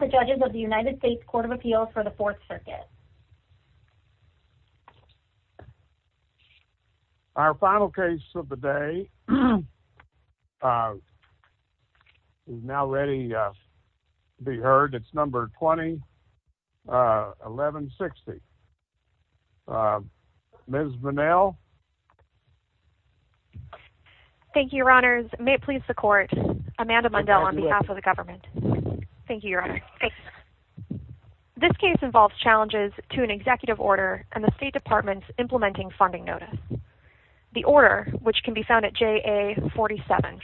v. Judges of the U.S. Court of Appeals for the Fourth Circuit This case involves challenges to an Executive Order and the State Department's Implementing Funding Notice. The Order, which can be found at JA 47,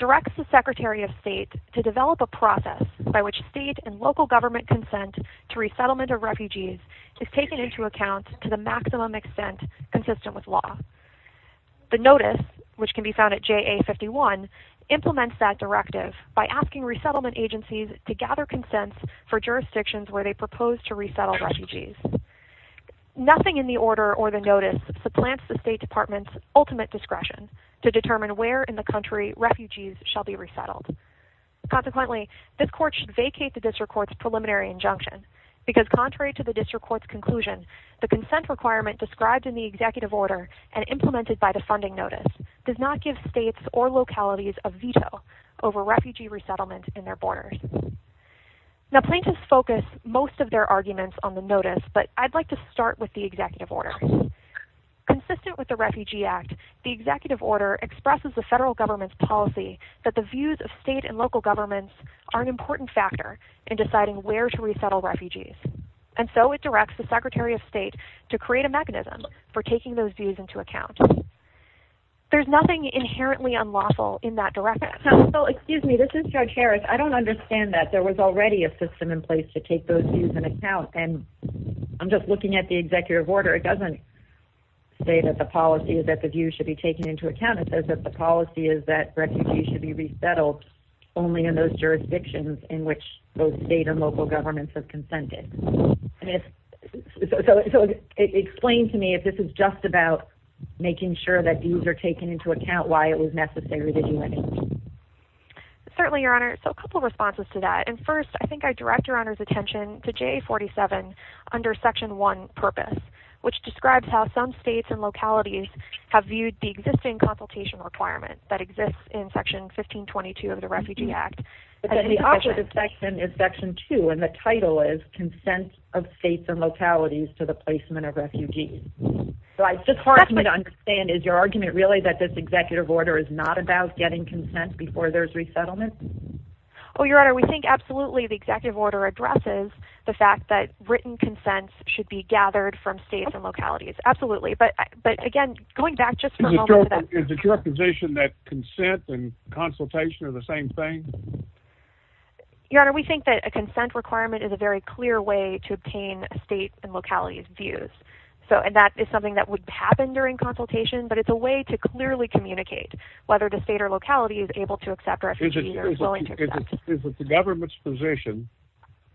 directs the Secretary of State to develop a process by which state and local government consent to resettlement of refugees is taken into account to the maximum extent consistent with law. The Notice, which can be found at JA 51, implements that directive by asking resettlement agencies to gather consent for jurisdictions where they propose to resettle refugees. Nothing in the Order or the Notice supplants the State Department's ultimate discretion to determine where in the country refugees shall be resettled. Consequently, this Court should vacate the District Court's preliminary injunction because contrary to the District Court's conclusion, the consent requirement described in the Executive Order and implemented by the Funding Notice does not give states or localities a veto over refugee resettlement in their borders. Now, plaintiffs focus most of their arguments on the Notice, but I'd like to start with the Executive Order. Consistent with the Refugee Act, the Executive Order expresses the federal government's policy that the views of state and local governments are an important factor in deciding where to resettle refugees, and so it directs the Secretary of State to create a mechanism for taking those views into account. There's nothing inherently unlawful in that directive. So, excuse me, this is Judge Harris. I don't understand that. There was already a system in place to take those views into account, and I'm just looking at the Executive Order. It doesn't say that the policy is that the views should be taken into account. It says that the policy is that refugees should be resettled only in those jurisdictions in which both state and local governments have consented. So, explain to me if this is just about making sure that views are taken into account, why it was necessary that you went into it. Certainly, Your Honor. So, a couple of responses to that. And first, I think I direct Your Honor's attention to JA-47 under Section 1, Purpose, which describes how some states and localities have viewed the existing consultation requirement that exists in Section 1522 of the Refugee Act. But then the opposite of Section is Section 2, and the title is Consent of States and Localities to the Placement of Refugees. So, it's just hard for me to understand. Is your argument really that this Executive Order is not about getting consent before there's resettlement? Oh, Your Honor, we think absolutely the Executive Order addresses the fact that written consents should be gathered from states and localities. Absolutely. But, again, going back just for a moment to that. Is it your position that consent and consultation are the same thing? Your Honor, we think that a consent requirement is a very clear way to obtain states and localities' views. So, and that is something that would happen during consultation, but it's a way to clearly communicate whether the state or locality is able to accept refugees. Is it the government's position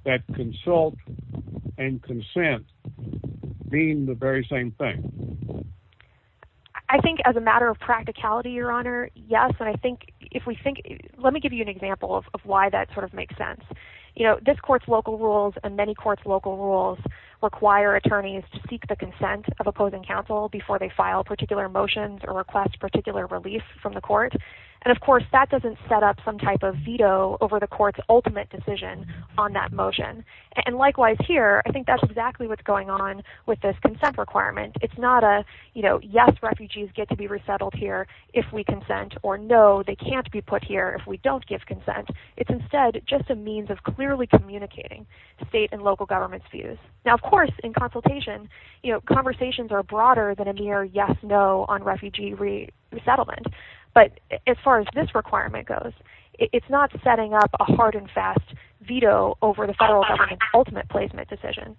that consult and consent mean the very same thing? I think as a matter of practicality, Your Honor, yes. And I think if we think, let me give you an example of why that sort of makes sense. You know, this Court's local rules and many courts' local rules require attorneys to seek the consent of opposing counsel before they file particular motions or request particular relief from the court. And, of course, that doesn't set up some type of veto over the Court's ultimate decision on that motion. And likewise here, I think that's exactly what's going on with this consent requirement. It's not a, you know, yes, refugees get to be resettled here if we consent, or no, they can't be put here if we don't give consent. It's instead just a means of clearly communicating the state and local government's views. Now, of course, in consultation, you know, conversations are broader than a mere yes-no on refugee resettlement. But as far as this requirement goes, it's not setting up a hard and fast veto over the federal government's ultimate placement decision.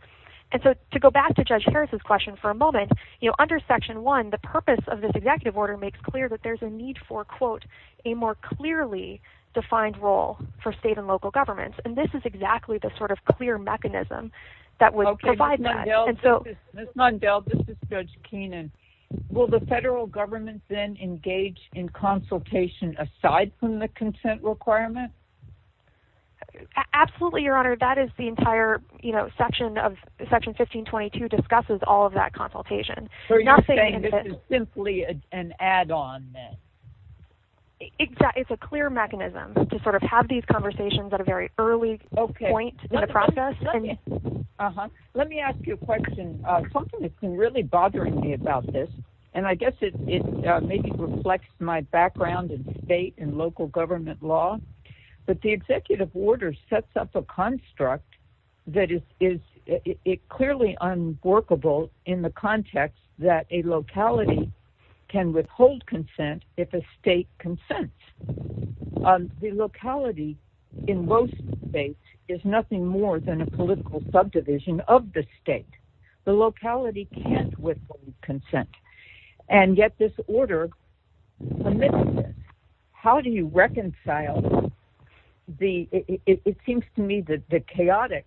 And so to go back to Judge Harris' question for a moment, you know, under Section 1, the purpose of this executive order makes clear that there's a need for, quote, a more clearly defined role for state and local governments. And this is exactly the sort of clear mechanism that would provide that. Ms. Mundell, this is Judge Keenan. Will the federal government then engage in consultation aside from the consent requirement? Absolutely, Your Honor. That is the entire, you know, Section 1522 discusses all of that consultation. So you're saying this is simply an add-on then? It's a clear mechanism to sort of have these conversations at a very early point in the process. Let me ask you a question. Something that's been really bothering me about this, and I guess it maybe reflects my background in state and local government law, but the executive order sets up a construct that is clearly unworkable in the context that a locality can withhold consent if a state consents. The locality in most states is nothing more than a political subdivision of the state. The locality can't withhold consent. And yet this order permits this. How do you reconcile the – it seems to me that the chaotic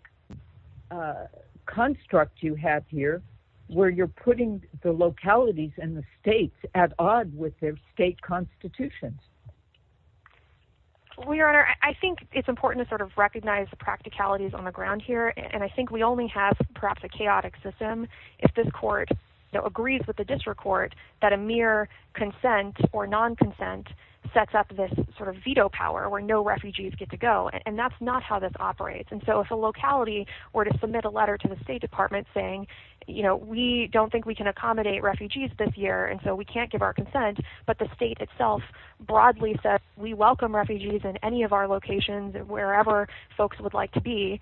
construct you have here, where you're putting the localities and the states at odds with their state constitutions. Well, Your Honor, I think it's important to sort of recognize the practicalities on the ground here, and I think we only have perhaps a chaotic system if this court agrees with the district court that a mere consent or non-consent sets up this sort of veto power where no refugees get to go. And that's not how this operates. And so if a locality were to submit a letter to the State Department saying, you know, we don't think we can accommodate refugees this year, and so we can't give our consent, but the state itself broadly says we welcome refugees in any of our locations, wherever folks would like to be.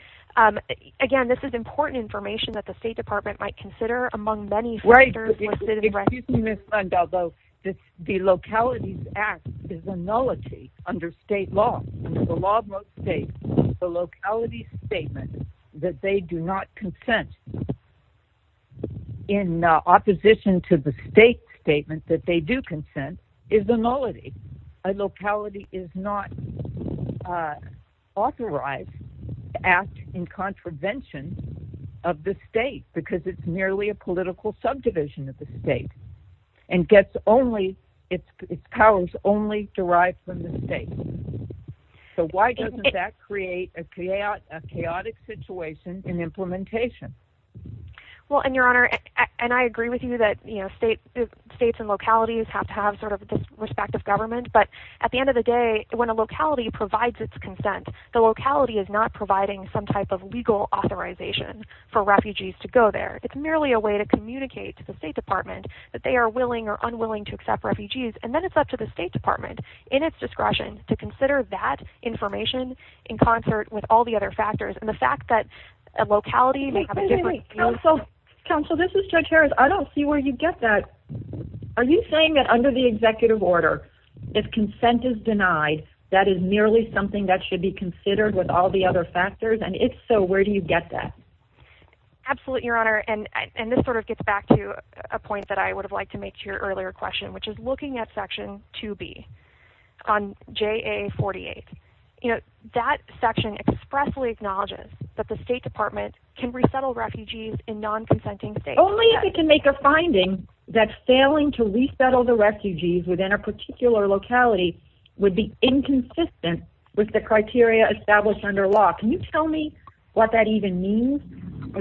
Again, this is important information that the State Department might consider among many factors. Right. Although the localities act is a nullity under state law. Under the law of most states, the locality's statement that they do not consent in opposition to the state's statement that they do consent is a nullity. A locality is not authorized to act in contravention of the state because it's merely a political subdivision of the state and gets only its powers only derived from the state. So why doesn't that create a chaotic situation in implementation? Well, and Your Honor, and I agree with you that, you know, states and localities have to have sort of this respective government. But at the end of the day, when a locality provides its consent, the locality is not providing some type of legal authorization for refugees to go there. It's merely a way to communicate to the State Department that they are willing or unwilling to accept refugees. And then it's up to the State Department, in its discretion, to consider that information in concert with all the other factors. And the fact that a locality may have a different view... Wait, wait, wait. Counsel, this is Judge Harris. I don't see where you get that. Are you saying that under the executive order, if consent is denied, that is merely something that should be considered with all the other factors? And if so, where do you get that? Absolutely, Your Honor. And this sort of gets back to a point that I would have liked to make to your earlier question, which is looking at Section 2B on JA-48. You know, that section expressly acknowledges that the State Department can resettle refugees in non-consenting states. Only if it can make a finding that failing to resettle the refugees within a particular locality would be inconsistent with the criteria established under law. Can you tell me what that even means?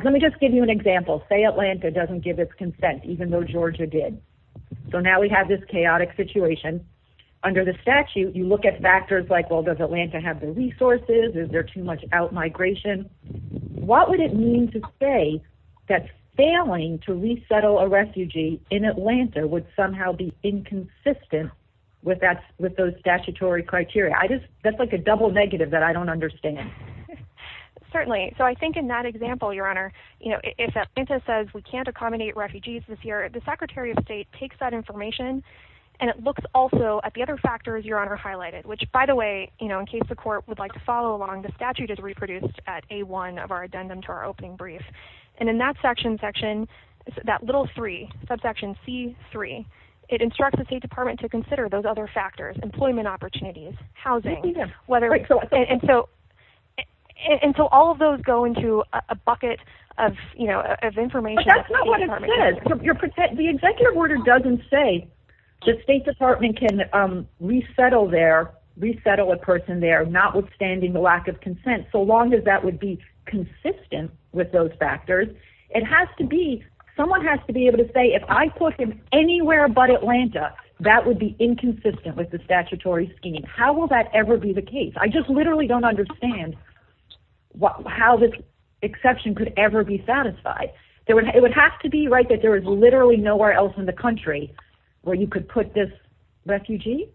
Let me just give you an example. Say Atlanta doesn't give its consent, even though Georgia did. So now we have this chaotic situation. Under the statute, you look at factors like, well, does Atlanta have the resources? Is there too much out-migration? What would it mean to say that failing to resettle a refugee in Atlanta would somehow be inconsistent with those statutory criteria? That's like a double negative that I don't understand. Certainly. So I think in that example, Your Honor, you know, if Atlanta says we can't accommodate refugees this year, the Secretary of State takes that information and it looks also at the other factors Your Honor highlighted, which, by the way, you know, in case the Court would like to follow along, the statute is reproduced at A-1 of our addendum to our opening brief. And in that section, that little 3, subsection C-3, it instructs the State Department to consider those other factors, employment opportunities, housing. And so all of those go into a bucket of, you know, of information. But that's not what it says. The executive order doesn't say the State Department can resettle there, resettle a person there, notwithstanding the lack of consent, so long as that would be consistent with those factors. It has to be, someone has to be able to say if I put in anywhere but Atlanta, that would be inconsistent with the statutory scheme. How will that ever be the case? I just literally don't understand how this exception could ever be satisfied. It would have to be right that there is literally nowhere else in the country where you could put this refugee?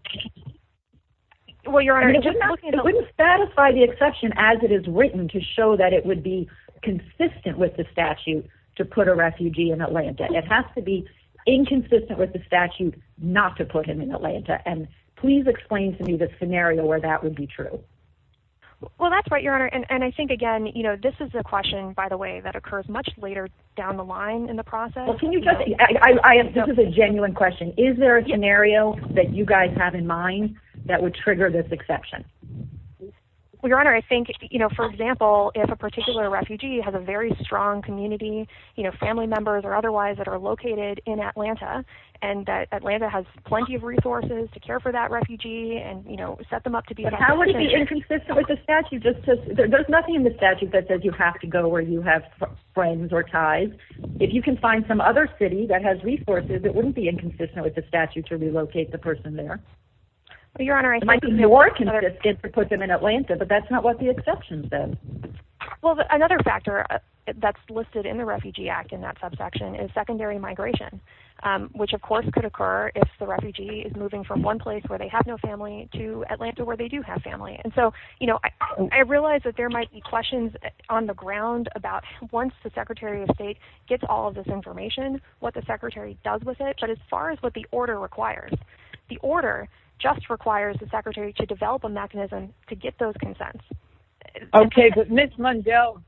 Well, Your Honor, it wouldn't satisfy the exception as it is written to show that it would be consistent with the statute to put a refugee in Atlanta. It has to be inconsistent with the statute not to put him in Atlanta. And please explain to me the scenario where that would be true. Well, that's right, Your Honor. And I think, again, you know, this is a question, by the way, that occurs much later down the line in the process. This is a genuine question. Is there a scenario that you guys have in mind that would trigger this exception? Well, Your Honor, I think, you know, for example, if a particular refugee has a very strong community, you know, family members or otherwise that are located in Atlanta, and Atlanta has plenty of resources to care for that refugee and, you know, set them up to be that refugee. But how would it be inconsistent with the statute? There's nothing in the statute that says you have to go where you have friends or ties. If you can find some other city that has resources, it wouldn't be inconsistent with the statute to relocate the person there. Well, Your Honor, I think. It might be more consistent to put them in Atlanta, but that's not what the exception says. Well, another factor that's listed in the Refugee Act in that subsection is secondary migration, which, of course, could occur if the refugee is moving from one place where they have no family to Atlanta where they do have family. And so, you know, I realize that there might be questions on the ground about once the Secretary of State gets all of this information, what the Secretary does with it. But as far as what the order requires, the order just requires the Secretary to develop a mechanism to get those consents. Okay. But, Ms. Mundell,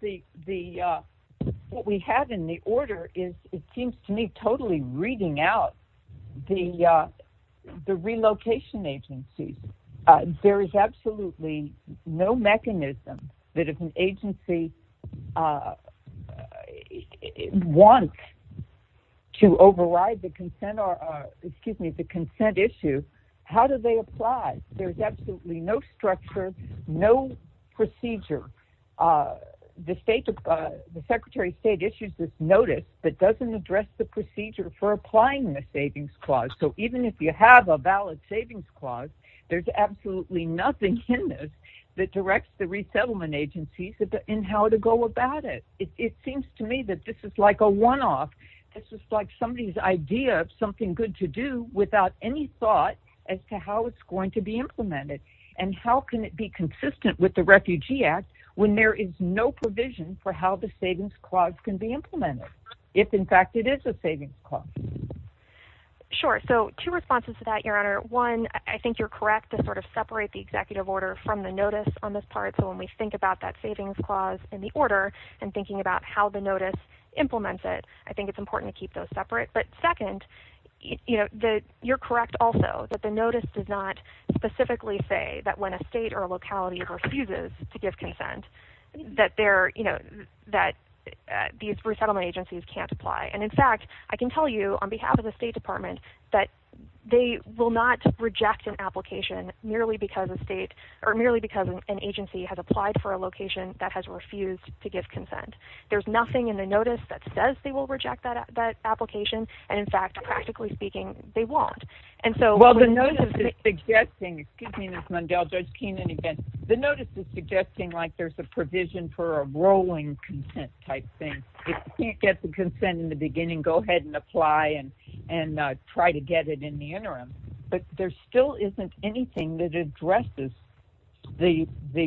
what we have in the order is, it seems to me, totally reading out the relocation agencies. There is absolutely no mechanism that if an agency wants to override the consent issue, how do they apply? There's absolutely no structure, no procedure. The Secretary of State issues this notice that doesn't address the procedure for applying the savings clause. So even if you have a valid savings clause, there's absolutely nothing in this that directs the resettlement agencies in how to go about it. It seems to me that this is like a one-off. This is like somebody's idea of something good to do without any thought as to how it's going to be implemented. And how can it be consistent with the Refugee Act when there is no provision for how the savings clause can be implemented, if, in fact, it is a savings clause? Sure. So two responses to that, Your Honor. One, I think you're correct to sort of separate the executive order from the notice on this part. So when we think about that savings clause in the order and thinking about how the notice implements it, I think it's important to keep those separate. But second, you're correct also that the notice does not specifically say that when a state or a locality refuses to give consent, that these resettlement agencies can't apply. And, in fact, I can tell you, on behalf of the State Department, that they will not reject an application merely because an agency has applied for a location that has refused to give consent. There's nothing in the notice that says they will reject that application. And, in fact, practically speaking, they won't. Well, the notice is suggesting, excuse me, Ms. Mundell, Judge Keenan again, the notice is suggesting like there's a provision for a rolling consent type thing. If you can't get the consent in the beginning, go ahead and apply and try to get it in the interim. But there still isn't anything that addresses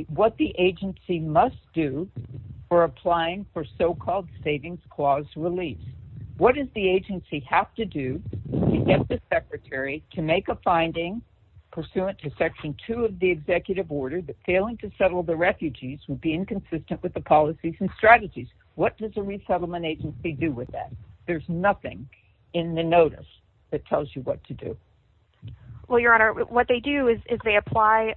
what the agency must do for applying for so-called savings clause release. What does the agency have to do to get the secretary to make a finding pursuant to Section 2 of the executive order that failing to settle the refugees would be inconsistent with the policies and strategies? What does a resettlement agency do with that? There's nothing in the notice that tells you what to do. Well, Your Honor, what they do is they apply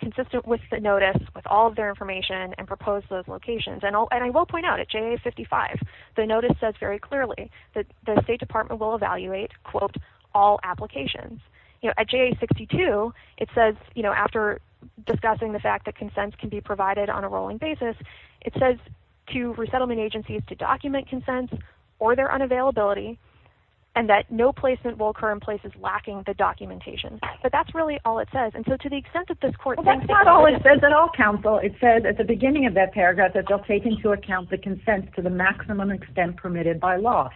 consistent with the notice with all of their information and propose those locations. And I will point out, at JA 55, the notice says very clearly that the State Department will evaluate, quote, all applications. You know, at JA 62, it says, you know, after discussing the fact that consents can be provided on a rolling basis, it says to resettlement agencies to document consents or their unavailability and that no placement will occur in places lacking the documentation. But that's really all it says. And so to the extent that this court thinks that... Well, that's not all it says at all, counsel. It says at the beginning of that paragraph that they'll take into account the consents to the maximum extent permitted by law.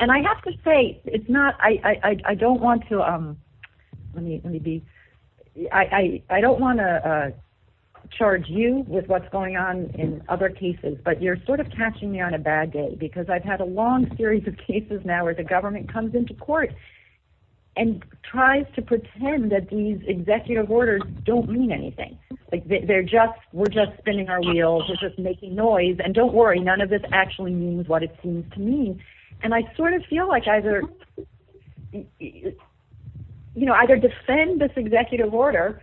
And I have to say, it's not... I don't want to... Let me be... I don't want to charge you with what's going on in other cases, but you're sort of catching me on a bad day because I've had a long series of cases now where the government comes into court and tries to pretend that these executive orders don't mean anything. They're just... We're just spinning our wheels. We're just making noise. And don't worry, none of this actually means what it seems to mean. And I sort of feel like either, you know, either defend this executive order,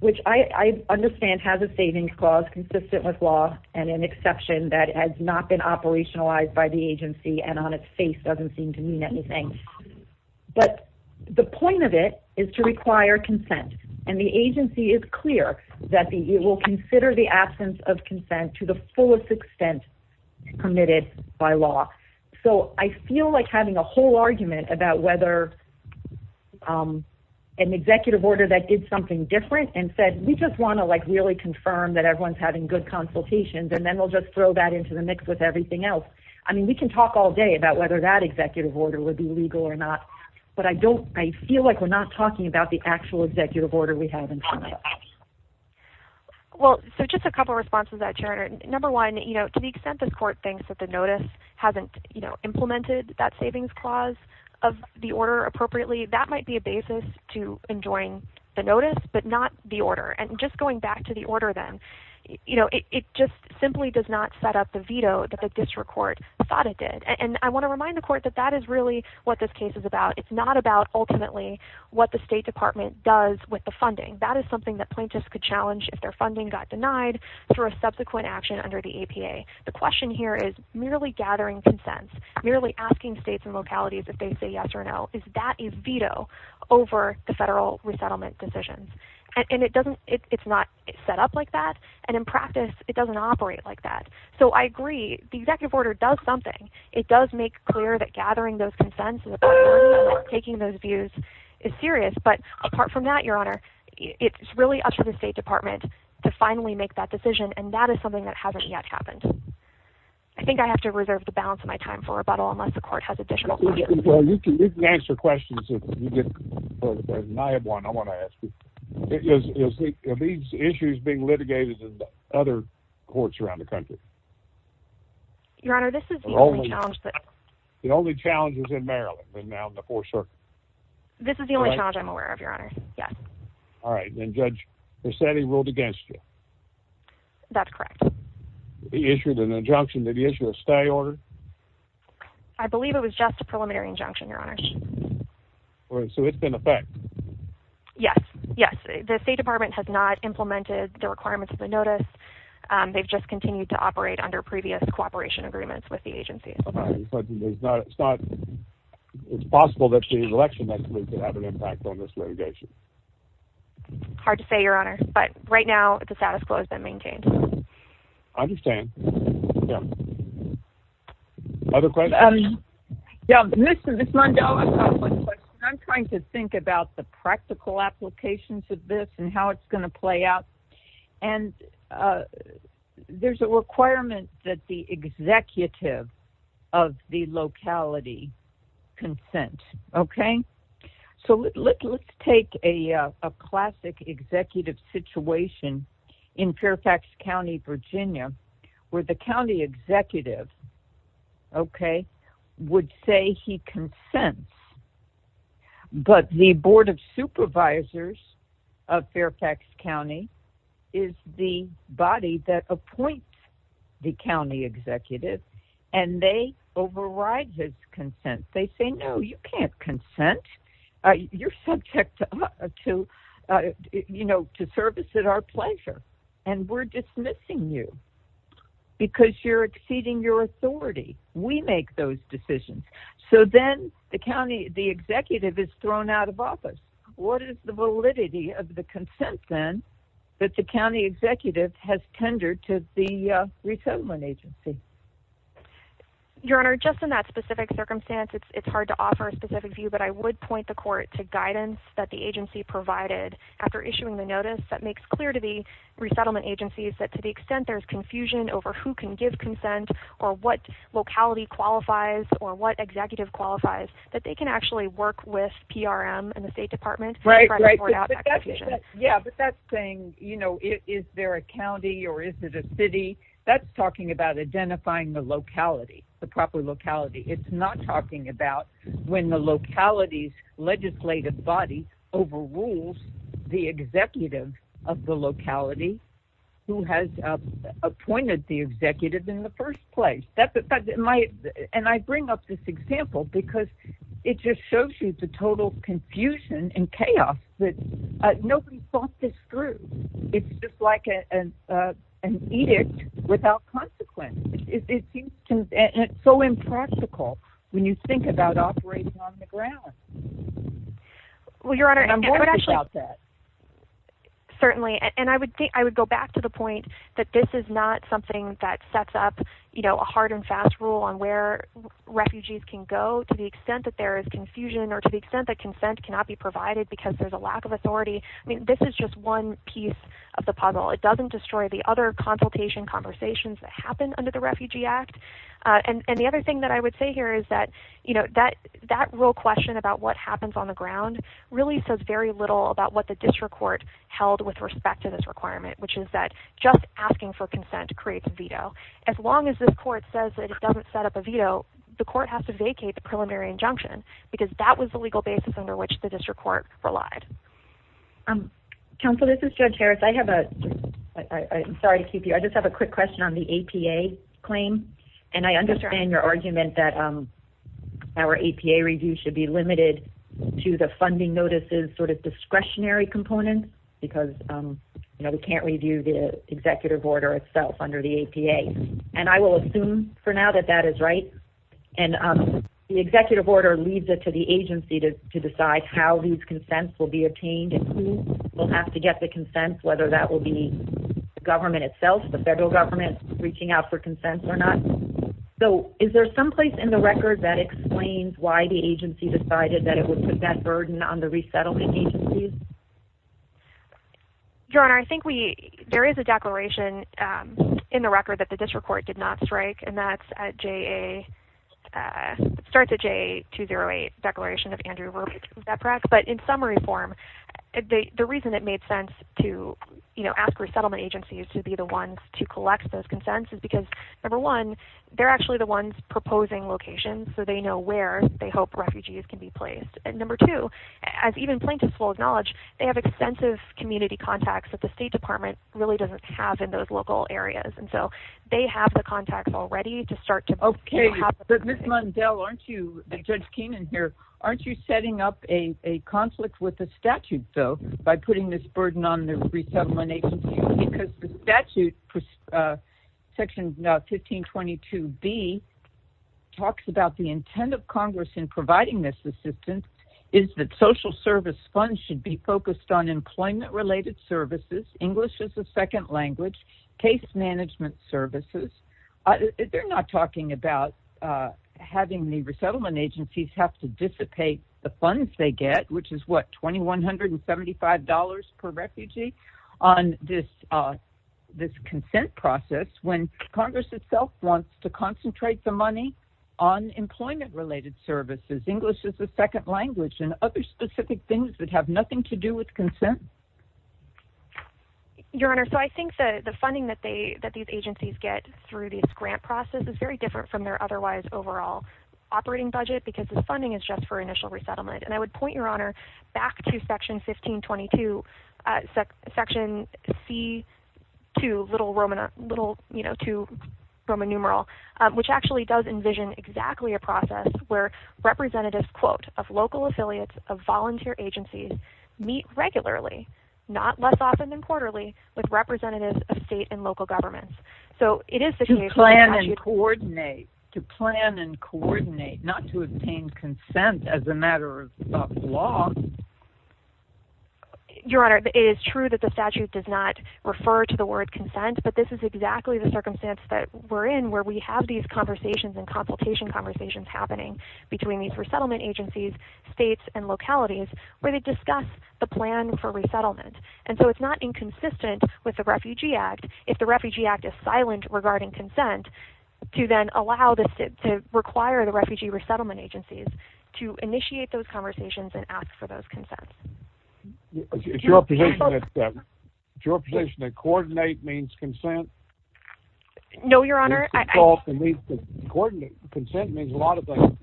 which I understand has a savings clause consistent with law and an exception that has not been operationalized by the agency and on its face doesn't seem to mean anything. But the point of it is to require consent. And the agency is clear that it will consider the absence of consent to the fullest extent permitted by law. So I feel like having a whole argument about whether an executive order that did something different and said, we just want to, like, really confirm that everyone's having good consultations and then we'll just throw that into the mix with everything else. I mean, we can talk all day about whether that executive order would be legal or not, but I don't... I feel like we're not talking about the actual executive order we have in front of us. Well, so just a couple of responses to that, Sharon. Number one, you know, to the extent the court thinks that the notice hasn't, you know, implemented that savings clause of the order appropriately, that might be a basis to enjoying the notice but not the order. And just going back to the order then, you know, it just simply does not set up the veto that the district court thought it did. And I want to remind the court that that is really what this case is about. It's not about ultimately what the State Department does with the funding. That is something that plaintiffs could challenge if their funding got denied through a subsequent action under the APA. The question here is merely gathering consent, merely asking states and localities if they say yes or no, is that a veto over the federal resettlement decisions? And it's not set up like that, and in practice it doesn't operate like that. So I agree, the executive order does something. It does make clear that gathering those consents and taking those views is serious, but apart from that, Your Honor, it's really up to the State Department to finally make that decision, and that is something that hasn't yet happened. I think I have to reserve the balance of my time for rebuttal unless the court has additional questions. Well, you can answer questions if you get the time. I have one I want to ask you. Are these issues being litigated in other courts around the country? Your Honor, this is the only challenge. The only challenge is in Maryland and now in the Fourth Circuit. This is the only challenge I'm aware of, Your Honor, yes. All right, then Judge, they're saying they ruled against you. That's correct. They issued an injunction. Did they issue a stay order? I believe it was just a preliminary injunction, Your Honor. So it's been a fact? Yes, yes. The State Department has not implemented the requirements of the notice. They've just continued to operate under previous cooperation agreements with the agency. It's possible that the election next week could have an impact on this litigation. Hard to say, Your Honor. But right now the status quo has been maintained. I understand. Other questions? Yes, Mr. Vismondela, I have one question. I'm trying to think about the practical applications of this and how it's going to play out. And there's a requirement that the executive of the locality consent, okay? So let's take a classic executive situation in Fairfax County, Virginia, where the county executive, okay, would say he consents. But the Board of Supervisors of Fairfax County is the body that appoints the county executive and they override his consent. They say, no, you can't consent. You're subject to service at our pleasure. And we're dismissing you because you're exceeding your authority. We make those decisions. So then the county executive is thrown out of office. What is the validity of the consent, then, that the county executive has tendered to the resettlement agency? Your Honor, just in that specific circumstance, it's hard to offer a specific view, but I would point the court to guidance that the agency provided. After issuing the notice, that makes clear to the resettlement agencies that to the extent there's confusion over who can give consent or what locality qualifies or what executive qualifies, that they can actually work with PRM and the State Department to try to sort out that confusion. Yeah, but that's saying, you know, is there a county or is it a city? That's talking about identifying the locality, the proper locality. It's not talking about when the locality's legislative body overrules the executive of the locality who has appointed the executive in the first place. And I bring up this example because it just shows you the total confusion and chaos that nobody thought this through. It's just like an edict without consequence. It's so impractical when you think about operating on the ground. I'm going to drop that. Certainly, and I would go back to the point that this is not something that sets up, you know, a hard and fast rule on where refugees can go to the extent that there is confusion or to the extent that consent cannot be provided because there's a lack of authority. I mean, this is just one piece of the puzzle. It doesn't destroy the other consultation conversations that happen under the Refugee Act. And the other thing that I would say here is that, you know, that real question about what happens on the ground really says very little about what the district court held with respect to this requirement, which is that just asking for consent creates a veto. As long as this court says that it doesn't set up a veto, the court has to vacate the preliminary injunction because that was the legal basis under which the district court relied. Counsel, this is Judge Harris. I have a – I'm sorry to keep you. I just have a quick question on the APA claim. And I understand your argument that our APA review should be limited to the funding notices sort of discretionary component because, you know, we can't review the executive order itself under the APA. And I will assume for now that that is right. And the executive order leads it to the agency to decide how these consents will be obtained and who will have to get the consents, whether that will be the government itself, the federal government reaching out for consents or not. So is there some place in the record that explains why the agency decided that it would put that burden on the resettlement agencies? Your Honor, I think we – there is a declaration in the record that the district court did not strike, and that's at JA – starts at JA 208, Declaration of Andrew Rupert. But in summary form, the reason it made sense to, you know, ask resettlement agencies to be the ones to collect those consents is because, number one, they're actually the ones proposing locations, so they know where they hope refugees can be placed. And number two, as even plaintiffs will acknowledge, they have extensive community contacts that the State Department really doesn't have in those local areas. And so they have the contacts already to start to – Okay, but Ms. Mundell, aren't you – Judge Keenan here – aren't you setting up a conflict with the statute, though, by putting this burden on the resettlement agencies? Because the statute, Section 1522B, talks about the intent of Congress in providing this assistance is that social service funds should be focused on employment-related services, English as a second language, case management services. They're not talking about having the resettlement agencies have to dissipate the funds they get, which is what, $2,175 per refugee, on this consent process when Congress itself wants to concentrate the money on employment-related services, English as a second language, and other specific things that have nothing to do with consent? Your Honor, so I think that the funding that these agencies get through this grant process is very different from their otherwise overall operating budget because the funding is just for initial resettlement. And I would point, Your Honor, back to Section 1522, Section C-2, little Roman numeral, which actually does envision exactly a process where representatives, quote, of local affiliates of volunteer agencies meet regularly, not less often than quarterly, with representatives of state and local governments. To plan and coordinate. To plan and coordinate, not to obtain consent as a matter of law. Your Honor, it is true that the statute does not refer to the word consent, but this is exactly the circumstance that we're in where we have these conversations and consultation conversations happening between these resettlement agencies, states, and localities, where they discuss the plan for resettlement. And so it's not inconsistent with the Refugee Act. If the Refugee Act is silent regarding consent, to then allow this to require the refugee resettlement agencies to initiate those conversations and ask for those consents. Is your position that coordinate means consent? No, Your Honor. Consent means a lot of things.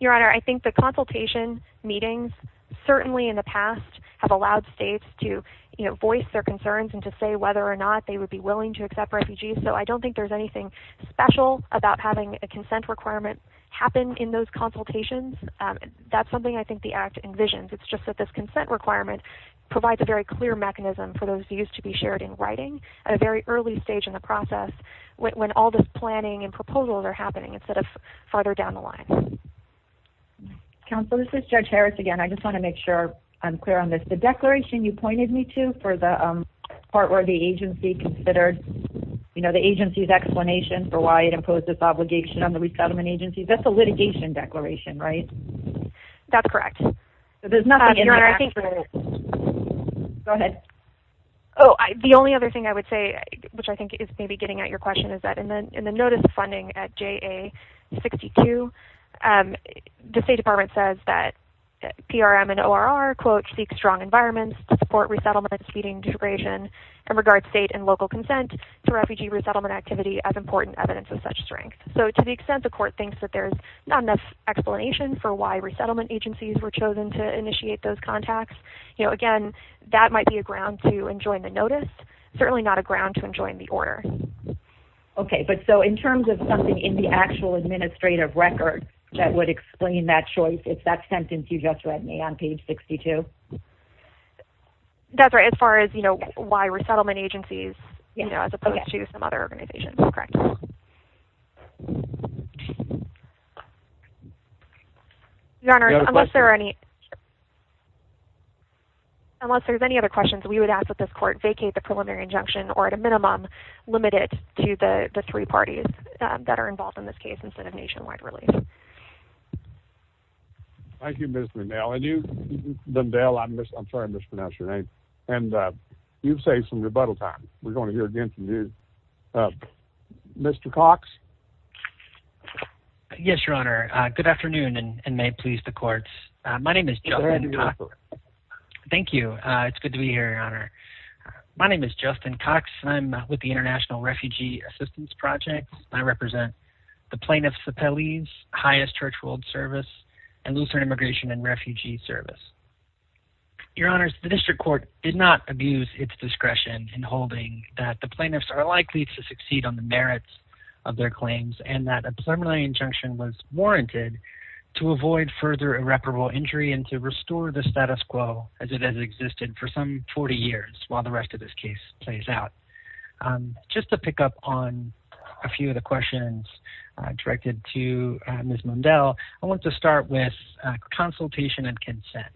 Your Honor, I think the consultation meetings, certainly in the past, have allowed states to, you know, voice their concerns and to say whether or not they would be willing to accept refugees. So I don't think there's anything special about having a consent requirement happen in those consultations. That's something I think the Act envisions. It's just that this consent requirement provides a very clear mechanism for those views to be shared in writing at a very early stage in the process when all this planning and proposals are happening, instead of farther down the line. Counsel, this is Judge Harris again. I just want to make sure I'm clear on this. The declaration you pointed me to for the part where the agency considered, you know, the agency's explanation for why it imposed this obligation on the resettlement agencies, that's a litigation declaration, right? That's correct. So there's nothing in there. Go ahead. Oh, the only other thing I would say, which I think is maybe getting at your question, is that in the notice of funding at JA-62, the State Department says that PRM and ORR, quote, seek strong environments to support resettlement and speeding integration in regard to state and local consent to refugee resettlement activity as important evidence of such strength. So to the extent the court thinks that there's not enough explanation for why resettlement agencies were chosen to initiate those contacts, you know, again, that might be a ground to enjoin the notice, certainly not a ground to enjoin the order. Okay. But so in terms of something in the actual administrative record that would explain that choice, it's that sentence you just read me on page 62. That's right. As far as, you know, why resettlement agencies, you know, as opposed to some other organizations, correct. Your Honor, unless there are any, unless there's any other questions we would ask that this court vacate the three parties that are involved in this case instead of nationwide relief. Thank you, Ms. Dundell. And you, Dundell, I'm sorry I mispronounced your name. And you've saved some rebuttal time. We're going to hear again from you. Mr. Cox. Yes, Your Honor. Good afternoon and may it please the courts. My name is Justin Cox. Thank you. It's good to be here, Your Honor. My name is Justin Cox. I'm with the International Refugee Assistance Project. I represent the plaintiffs of Pelley's highest church world service and Lutheran Immigration and Refugee Service. Your Honor, the district court did not abuse its discretion in holding that the plaintiffs are likely to succeed on the merits of their claims and that a preliminary injunction was warranted to avoid further irreparable injury and to restore the status quo as it has existed for some 40 years while the rest of this case plays out. Just to pick up on a few of the questions directed to Ms. Mundell, I want to start with consultation and consent.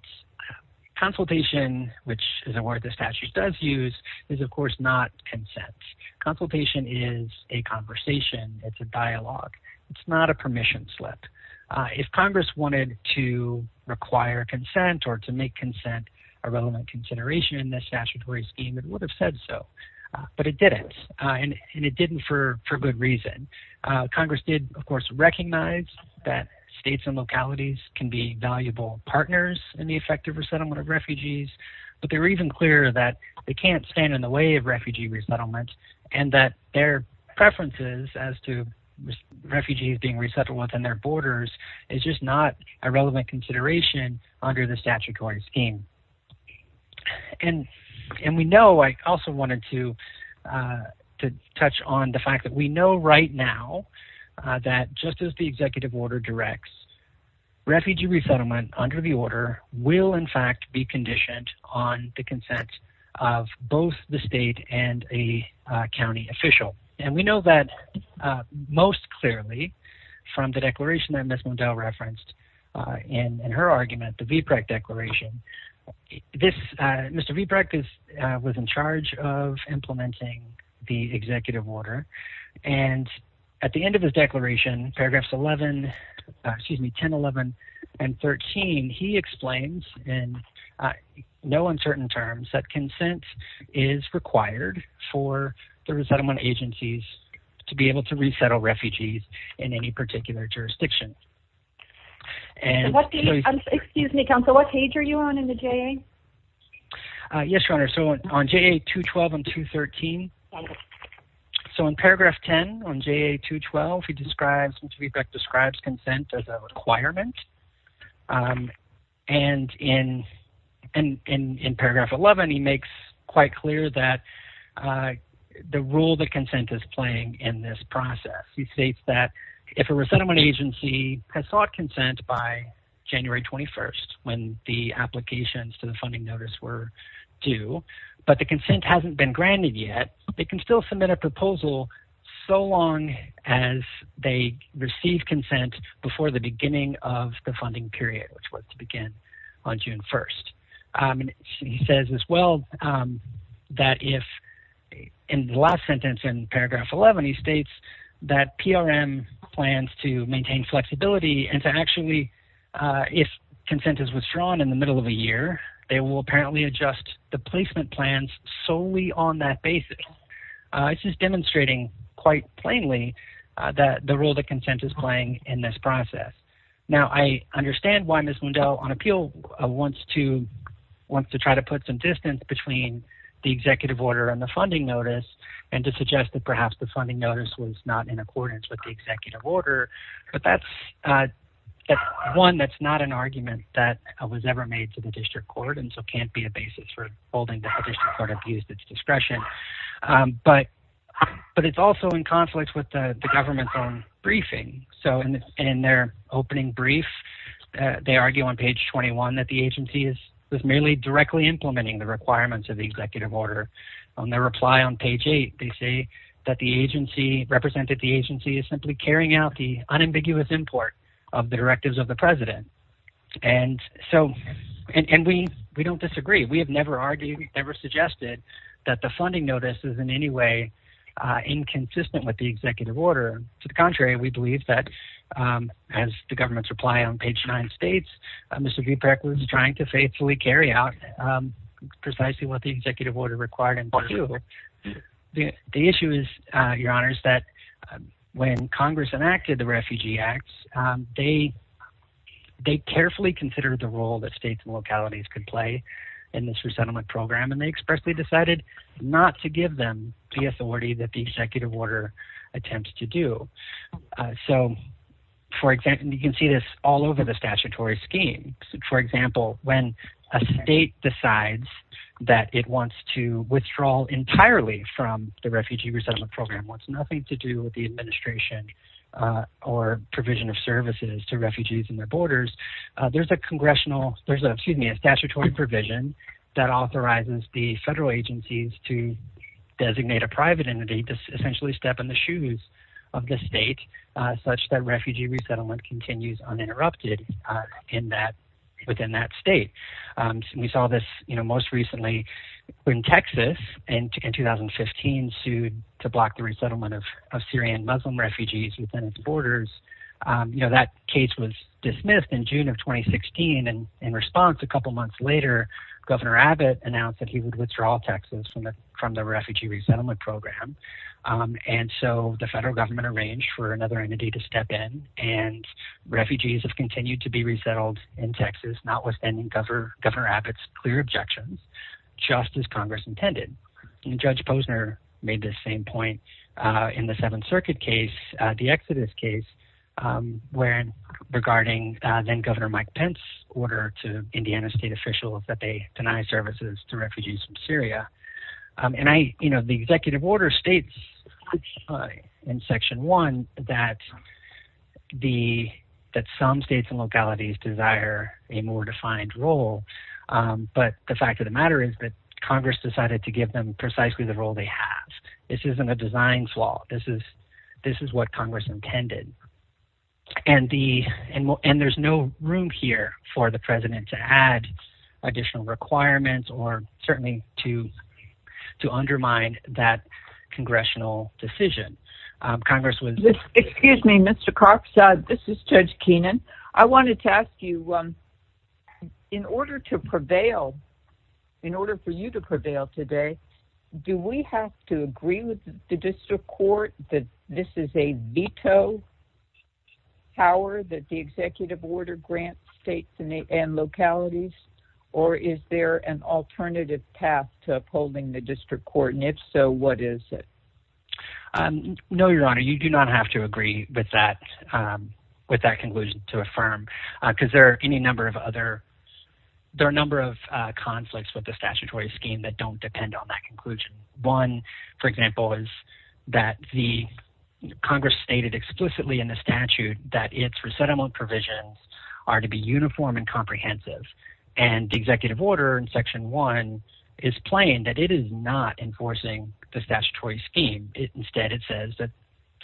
Consultation, which is a word the statute does use, is of course not consent. Consultation is a conversation. It's a dialogue. It's not a permission slip. If Congress wanted to require consent or to make consent a relevant consideration in this statutory scheme, it would have said so. But it didn't. And it didn't for good reason. Congress did, of course, recognize that states and localities can be valuable partners in the effective resettlement of refugees, but they were even clearer that they can't stand in the way of refugee resettlement and that their preferences as to refugees being resettled within their borders is just not a relevant consideration under the statutory scheme. And we know, I also wanted to touch on the fact that we know right now that just as the executive order directs, refugee resettlement under the order will in fact be conditioned on the consent of both the state and a county official. And we know that most clearly from the declaration that Ms. Mundell referenced in her argument, the VBREC declaration, Mr. VBREC was in charge of implementing the executive order. And at the end of his declaration, paragraphs 11, excuse me, 10, 11, and 13, he explains in no uncertain terms that consent is required for the resettlement agencies to be able to resettle refugees in any particular jurisdiction. Excuse me, counsel, what page are you on in the JA? Yes, your honor. So on JA 212 and 213, so in paragraph 10 on JA 212, he describes, Mr. VBREC describes consent as a requirement. And in paragraph 11, he makes quite clear that the role that consent is playing in this process. He states that if a resettlement agency has sought consent by January 21st when the applications to the funding notice were due, but the consent hasn't been granted yet, they can still submit a proposal so long as they receive consent before the beginning of the funding period, which was to begin on June 1st. He says as well that if, in the last sentence in paragraph 11, he states that PRM plans to maintain flexibility and to actually, if consent is withdrawn in the middle of a year, they will apparently adjust the placement plans solely on that basis. This is demonstrating quite plainly that the role that consent is playing in this process. Now I understand why Ms. Lundell on appeal wants to try to put some distance between the executive order and the funding notice and to suggest that perhaps the funding notice was not in accordance with the executive order, but that's one that's not an argument that was ever made to the district court and so can't be a basis for holding that the district court abused its discretion. But it's also in conflict with the government's own briefing. So in their opening brief, they argue on page 21 that the agency is merely directly implementing the requirements of the executive order. On their reply on page eight, they say that the agency represented the agency is simply carrying out the unambiguous import of the directives of the president. And so, and we don't disagree. We have never argued, never suggested that the funding notice is in any way inconsistent with the executive order. To the contrary, we believe that as the government's reply on page nine states, Mr. executive order required. And the issue is your honors that when Congress enacted the refugee acts, they, they carefully considered the role that states and localities can play in this resettlement program. And they expressly decided not to give them the authority that the executive order attempts to do. So for example, you can see this all over the statutory scheme. For example, when a state decides that it wants to withdraw entirely from the refugee resettlement program, what's nothing to do with the administration or provision of services to refugees and their borders. There's a congressional, there's a, excuse me, a statutory provision that authorizes the federal agencies to designate a private entity to essentially step in the shoes of the state such that refugee resettlement continues uninterrupted in that, within that state. We saw this, you know, most recently in Texas and in 2015 sued to block the resettlement of Syrian Muslim refugees within its borders. You know, that case was dismissed in June of 2016. And in response, a couple months later, governor Abbott announced that he would withdraw Texas from the, from the refugee resettlement program. And so the federal government arranged for another entity to step in and refugees have continued to be resettled in Texas, notwithstanding governor Abbott's clear objections, just as Congress intended. And judge Posner made this same point in the seventh circuit case, the Exodus case, when regarding then governor Mike Pence order to Indiana state official that they deny services to refugees from Syria. And I, you know, the executive order states in section one, that the, that some states and localities desire a more defined role. But the fact of the matter is that Congress decided to give them precisely the role they have. This isn't a design flaw. This is, this is what Congress intended. And the, and there's no room here for the president to add additional requirements or certainly to, to undermine that congressional decision. Congress was- This is judge Keenan. I wanted to ask you, in order to prevail, in order for you to prevail today, do we have to agree with the district court that this is a veto power that the executive order grants states and localities, or is there an alternative path to upholding the district court? And if so, what is it? No, your honor, you do not have to agree with that. With that conclusion to affirm, cause there are any number of other, there are a number of conflicts with the statutory scheme that don't depend on that conclusion. One, for example, is that the Congress stated explicitly in the statute that it's resettlement provisions are to be uniform and comprehensive. And the executive order in section one is plain that it is not enforcing the statutory scheme. Instead, it says that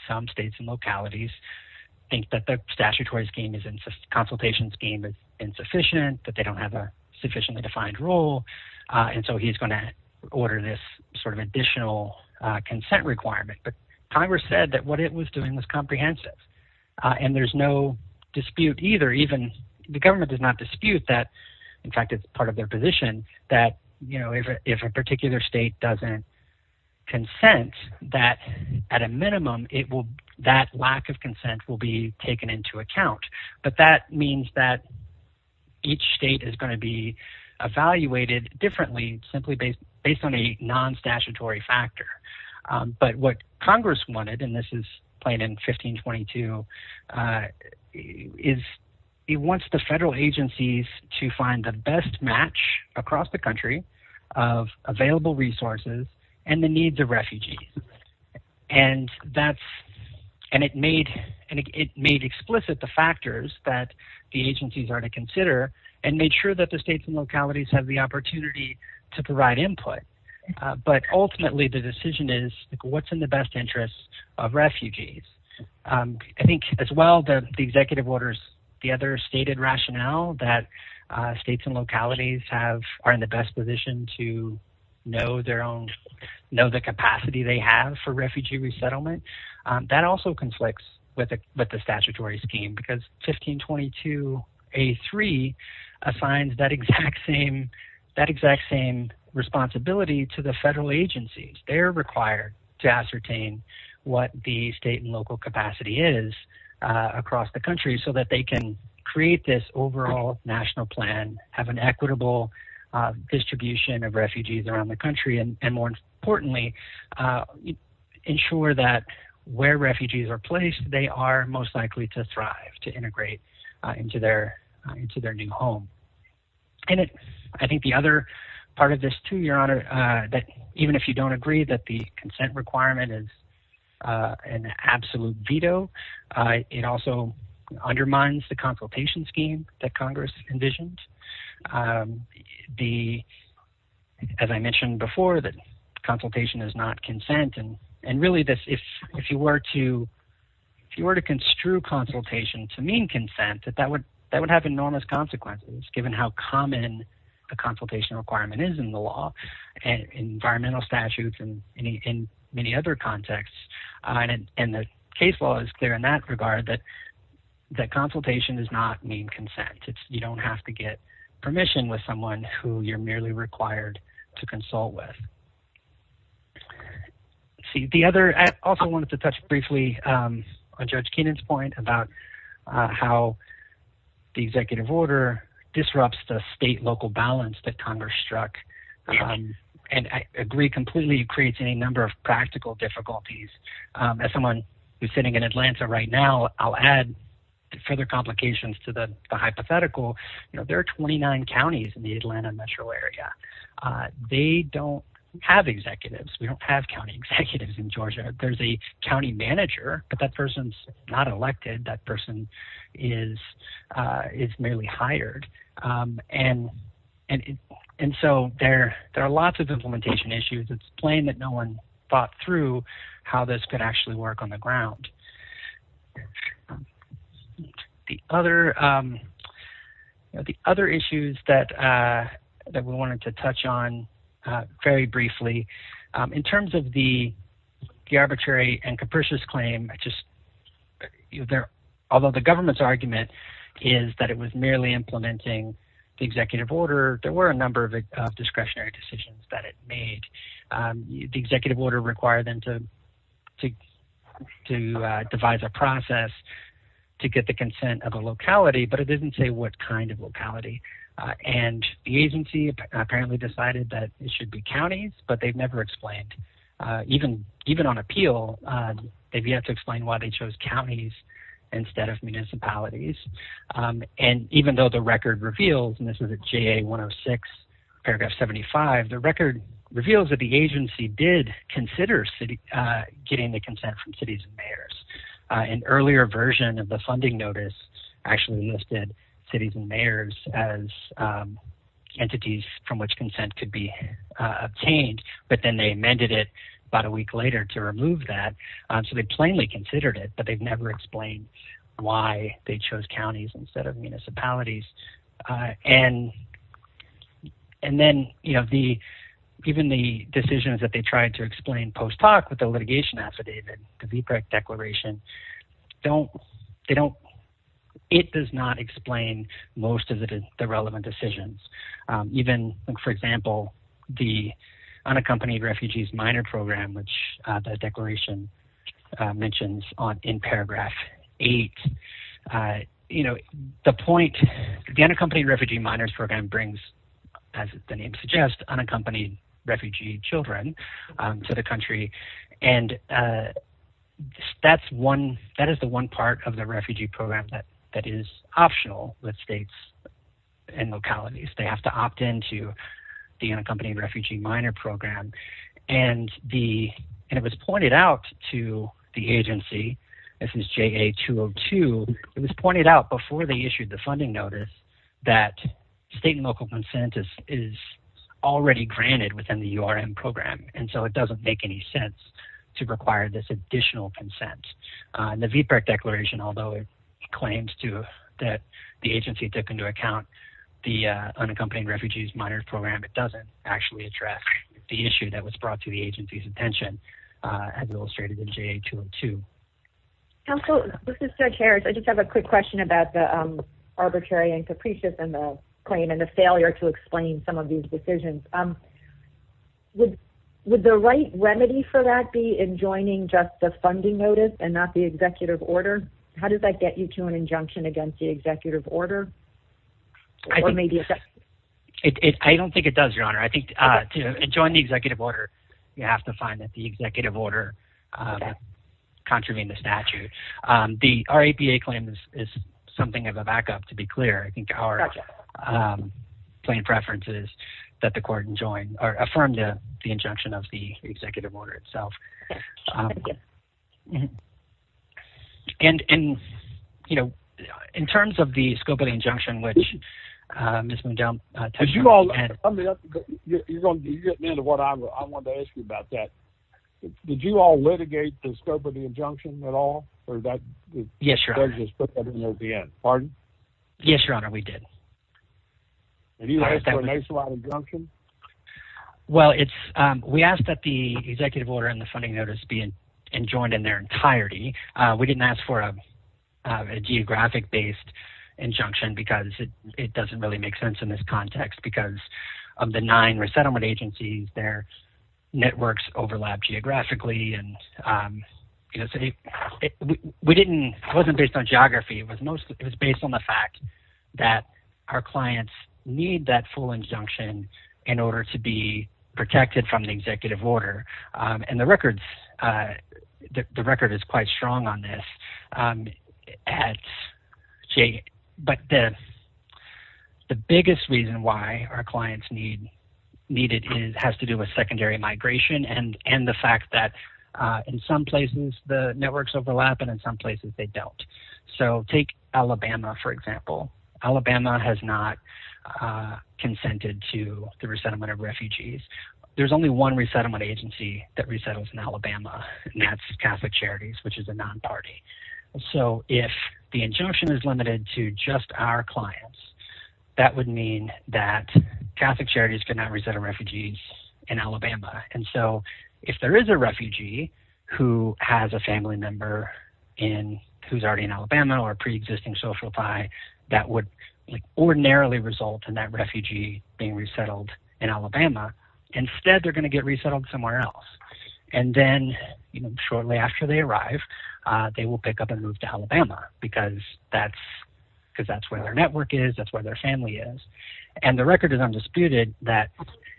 some states and localities think that the statutory scheme is in consultation scheme is insufficient, that they don't have a sufficiently defined role. And so he's going to order this sort of additional consent requirement. But Congress said that what it was doing was comprehensive and there's no dispute either. Even the government does not dispute that. In fact, it's part of their position that, you know, if a particular state doesn't consent that at a minimum, it will, that lack of consent will be taken into account. But that means that each state is going to be evaluated differently, simply based on a non-statutory factor. But what Congress wanted, and this is plain in 1522, is it wants the federal needs of refugees. And that's, and it made explicit the factors that the agencies are to consider and made sure that the states and localities have the opportunity to provide input. But ultimately, the decision is what's in the best interest of refugees. I think as well, the executive orders, the other stated rationale that states and localities have are in the best position to know their own, know the capacity they have for refugee resettlement. That also conflicts with the statutory scheme because 1522A3 assigns that exact same responsibility to the federal agencies. They're required to ascertain what the state and local capacity is across the equitable distribution of refugees around the country. And more importantly, ensure that where refugees are placed, they are most likely to thrive, to integrate into their new home. And I think the other part of this too, Your Honor, that even if you don't agree that the consent requirement is an absolute veto, it also undermines the as I mentioned before, that consultation is not consent. And really this, if you were to construe consultation to mean consent, that would have enormous consequences given how common the consultation requirement is in the law and environmental statutes and in many other contexts. And the case law is clear in that regard that consultation does not mean consent. You don't have to get permission with someone who you're merely required to consult with. I also wanted to touch briefly on Judge Keenan's point about how the executive order disrupts the state-local balance that Congress struck. And I agree completely it creates any number of practical difficulties. As someone who's sitting in Atlanta right now, I'll add further complications to the hypothetical. There are 29 counties in the Atlanta metro area. They don't have executives. We don't have county executives in Georgia. There's a county manager, but that person's not elected. That person is merely hired. And so there are lots of implementation issues. It's plain that no one thought through how this could actually work on the ground. The other issues that we wanted to touch on very briefly, in terms of the arbitrary and capricious claim, although the government's argument is that it was merely implementing the executive order, there were a number of discretionary decisions that it made. The executive order required them to devise a process to get the consent of a locality, but it didn't say what kind of locality. And the agency apparently decided that it should be counties, but they've never explained. Even on appeal, they've yet to explain why they chose counties instead of municipalities. And even though the record reveals, and this is at JA 106, paragraph 75, the record reveals that the agency did consider getting the consent from cities and mayors. An earlier version of the funding notice actually listed cities and mayors as entities from which consent could be obtained, but then they amended it about a week later to remove that. So they plainly considered it, but they've never explained why they chose counties instead of municipalities. And then even the decisions that they tried to explain post-talk with the litigation affidavit, the VPRAC declaration, it does not explain most of the relevant decisions. Even, for example, the unaccompanied refugees minor program, which the unaccompanied refugee minors program brings, as the name suggests, unaccompanied refugee children to the country. And that is the one part of the refugee program that is optional with states and localities. They have to opt into the unaccompanied refugee minor program. And it was pointed out to the agency, this is JA 202, it was pointed out before they issued the funding notice that state and local consent is already granted within the URM program. And so it doesn't make any sense to require this additional consent. The VPRAC declaration, although it claims that the agency took into account the unaccompanied refugees minor program, it doesn't actually address the issue that was brought to the agency's attention as illustrated in JA 202. Counsel, this is Judge Harris. I just have a quick question about the arbitrary and capricious in the claim and the failure to explain some of these decisions. Would the right remedy for that be in joining just the funding notice and not the executive order? How does that get you to an injunction against the executive order? I don't think it does, Your Honor. I think to join the executive order, you have to find that the executive order contravened the statute. Our APA claim is something of a backup, to be clear. I think our plain preference is that the court join or affirm the injunction of the executive order itself. And, you know, in terms of the scope of the injunction, which Ms. Do you all litigate the scope of the injunction at all? Yes, Your Honor. Pardon? Yes, Your Honor, we did. Have you asked for a nationwide injunction? Well, we asked that the executive order and the funding notice be enjoined in their entirety. We didn't ask for a geographic-based injunction because it doesn't really make sense in this context because of the nine resettlement agencies, their networks overlap geographically. It wasn't based on geography. It was based on the fact that our clients need that full injunction in order to be protected from the executive order. And the record is quite strong on this. But the biggest reason why our clients need it has to do with secondary migration and the fact that in some places the networks overlap and in some places they don't. So take Alabama, for example. Alabama has not consented to the resettlement of refugees. There's only one resettlement agency that resettles in Alabama, and that's Catholic Charities, which is a non-party. So if the injunction is limited to just our clients, that would mean that And so if there is a refugee who has a family member who's already in Alabama or a preexisting social tie, that would ordinarily result in that refugee being resettled in Alabama. Instead, they're going to get resettled somewhere else. And then shortly after they arrive, they will pick up and move to Alabama because that's where their network is, that's where their family is. And the record is undisputed that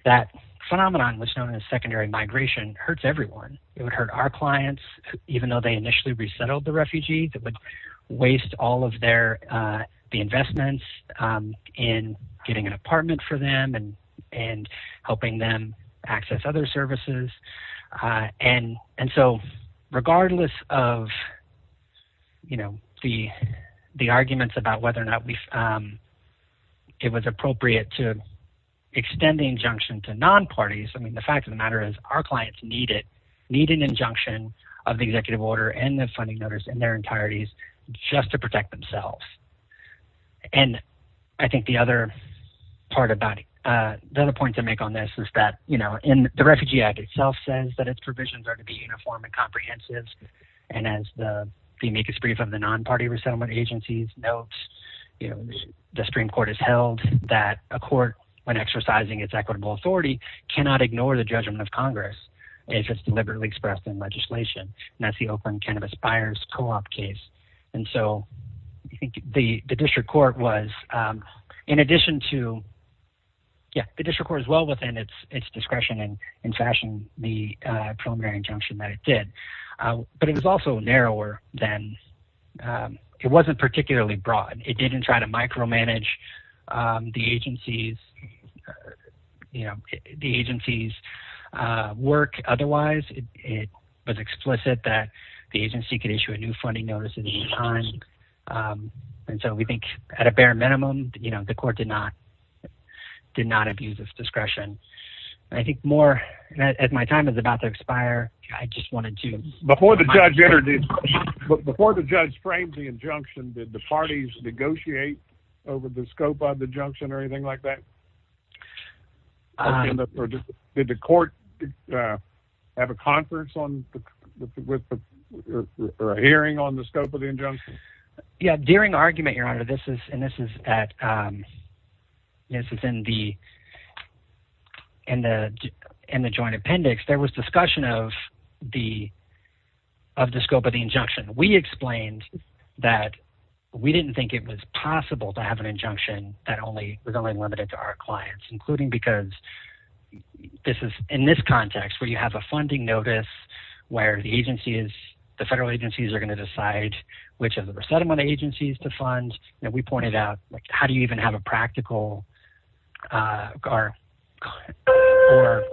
that phenomenon was known as secondary migration. It hurts everyone. It would hurt our clients, even though they initially resettled the refugees. It would waste all of the investments in getting an apartment for them and helping them access other services. And so regardless of the arguments about whether or not it was appropriate to extend the injunction to non-parties, the fact of the matter is our clients need an injunction of the executive order and the funding notice in their entireties just to protect themselves. And I think the other point to make on this is that in the Refugee Act itself says that its provisions are to be uniform and comprehensive. And as the amicus brief of the non-party resettlement agencies notes, the Supreme Court has held that a court, when exercising its equitable authority, cannot ignore the judgment of Congress if it's deliberately expressed in legislation. And that's the Oakland Cannabis Buyers Co-op case. And so I think the district court was, in addition to, yeah, the district court is well within its discretion and in fashion, the preliminary injunction that it did. But it was also narrower than, it wasn't particularly broad. It didn't try to micromanage the agency's work. Otherwise, it was explicit that the agency could issue a new funding notice at any time. And so we think at a bare minimum, you know, the court did not abuse its discretion. And I think more, as my time is about to expire, I just wanted to remind you. Before the judge framed the injunction, did the parties negotiate over the scope of the injunction or anything like that? Or did the court have a conference or a hearing on the scope of the injunction? Yeah, during argument, Your Honor, and this is in the joint appendix, there was discussion of the scope of the injunction. We explained that we didn't think it was possible to have an injunction that was only limited to our clients, including because this is, in this context, where you have a funding notice, where the agencies, the federal agencies are going to decide which of the settlement agencies to fund. And we pointed out, like, how do you even have a practical or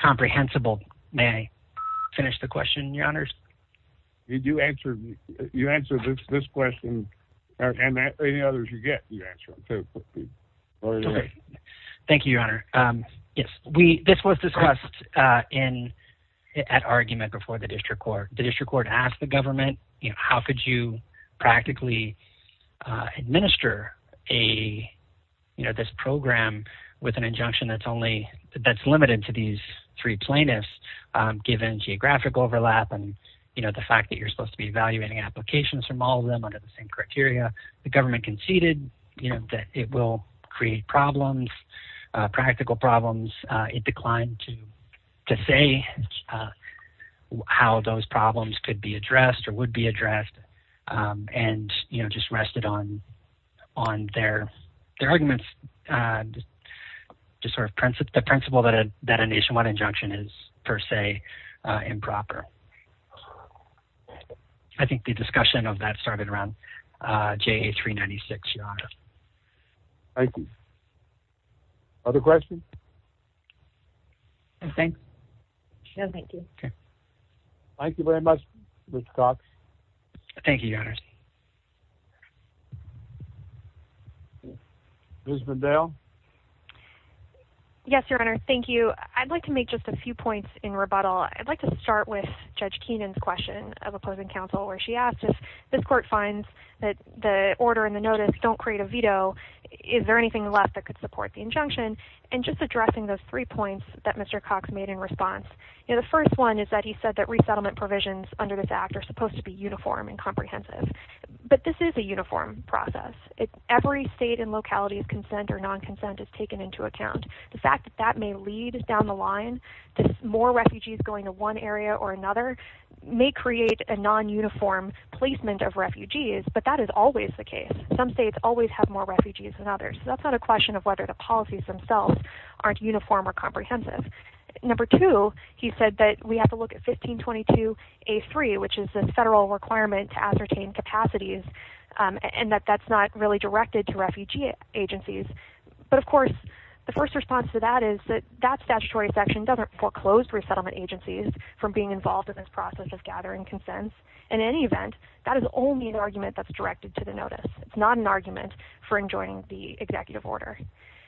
comprehensible... May I finish the question, Your Honors? You answer this question, and any others you get, you answer. Thank you, Your Honor. Yes, this was discussed at argument before the district court. The district court asked the government, how could you practically administer this program with an injunction that's limited to these three plaintiffs, given geographic overlap and the fact that you're supposed to be evaluating applications from all of them under the same criteria. The government conceded that it will create problems, practical problems. It declined to say how those problems could be addressed or would be addressed, and, you know, just rested on their arguments, just sort of the principle that a nationwide injunction is, per se, improper. I think the discussion of that started around JA396, Your Honor. Thank you. Other questions? No, thank you. Okay. Thank you very much, Ms. Cox. Thank you, Your Honors. Ms. McDowell? Yes, Your Honor. Thank you. I'd like to make just a few points in rebuttal. I'd like to start with Judge Keenan's question of opposing counsel, where she asked if this court finds that the order and the notice don't create a non-uniform placement of refugees, but that is always the case. So that's not a question of whether or not we support the injunction. And just addressing those three points that Mr. Cox made in response. You know, the first one is that he said that resettlement provisions under this act are supposed to be uniform and comprehensive. But this is a uniform process. Every state and locality's consent or non-consent is taken into account. The fact that that may lead down the line, that more refugees going to one area or another may create a non-uniform placement of refugees, but that is always the case. Some states always have more refugees than others. So that's not a question of whether the policies themselves aren't uniform or comprehensive. Number two, he said that we have to look at 1522A3, which is the federal requirement to ascertain capacities, and that that's not really directed to refugee agencies. But, of course, the first response to that is that that statutory section doesn't foreclose resettlement agencies from being involved in this process of gathering consent. In any event, that is only an argument that's directed to the notice. It's not an argument for enjoining the executive order.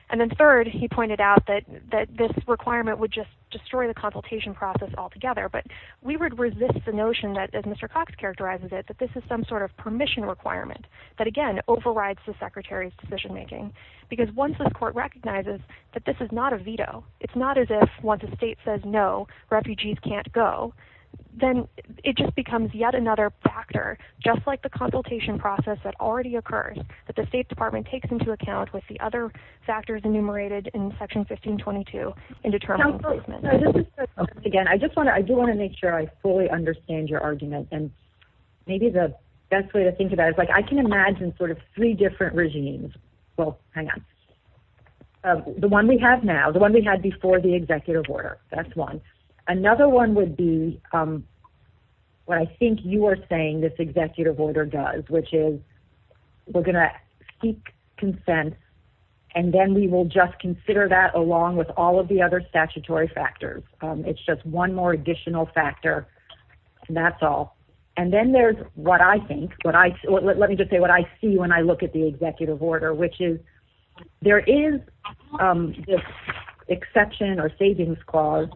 And then third, he pointed out that this requirement would just destroy the consultation process altogether. But we would resist the notion that, as Mr. Cox characterizes it, that this is some sort of permission requirement that, again, overrides the secretary's decision-making. Because once the court recognizes that this is not a veto, it's not as if once the state says no, refugees can't go, then it just becomes yet another factor, just like the consultation process that already occurred, that the State Department takes into account with the other factors enumerated in Section 1522 in determining placement. Again, I do want to make sure I fully understand your argument. And maybe the best way to think about it is, like, I can imagine sort of three different regimes. Well, hang on. The one we have now, the one we had before the executive order, that's one. Another one would be what I think you are saying this executive order does, which is we're going to seek consent, and then we will just consider that along with all of the other statutory factors. It's just one more additional factor, and that's all. And then there's what I think, let me just say what I see when I look at the There is this exception or savings clause,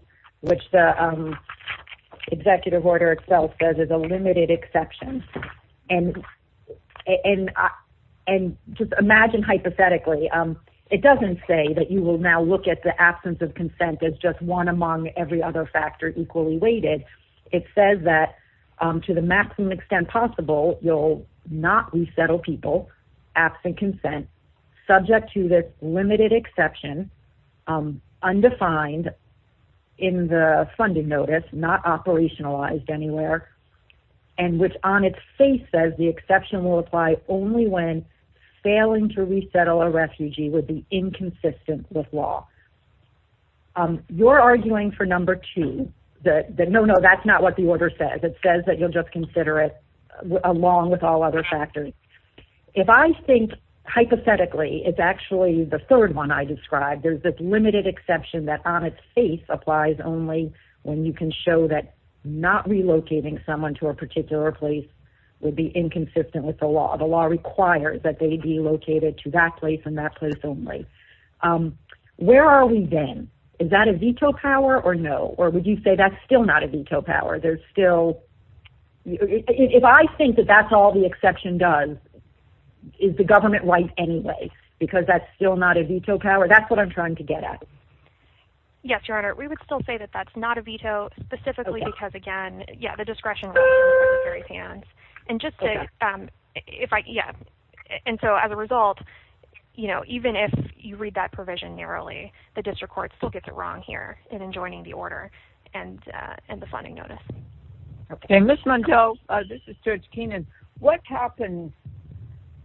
which the executive order itself says is a limited exception. And just imagine hypothetically, it doesn't say that you will now look at the absence of consent as just one among every other factor equally weighted. It says that to the maximum extent possible, you'll not resettle people absent consent, subject to this limited exception, undefined in the funding notice, not operationalized anywhere, and which on its face says the exception will apply only when failing to resettle a refugee would be inconsistent with law. You're arguing for number two, that no, no, that's not what the order says. It says that you'll just consider it along with all other factors. If I think hypothetically, it's actually the third one I described. There's this limited exception that on its face applies only when you can show that not relocating someone to a particular place would be inconsistent with the law. The law requires that they be located to that place and that place only. Where are we then? Is that a veto power or no? Or would you say that's still not a veto power? If I think that that's all the exception does, is the government right anyway? Because that's still not a veto power? That's what I'm trying to get at. Yes, Your Honor. We would still say that that's not a veto, specifically because, again, the discretion really is in the prosecutor's hands. And so as a result, even if you read that provision narrowly, the district court still gets it wrong here in adjoining the order and the funding notice. Okay. Ms. Montel, this is Judge Keenan. What happens,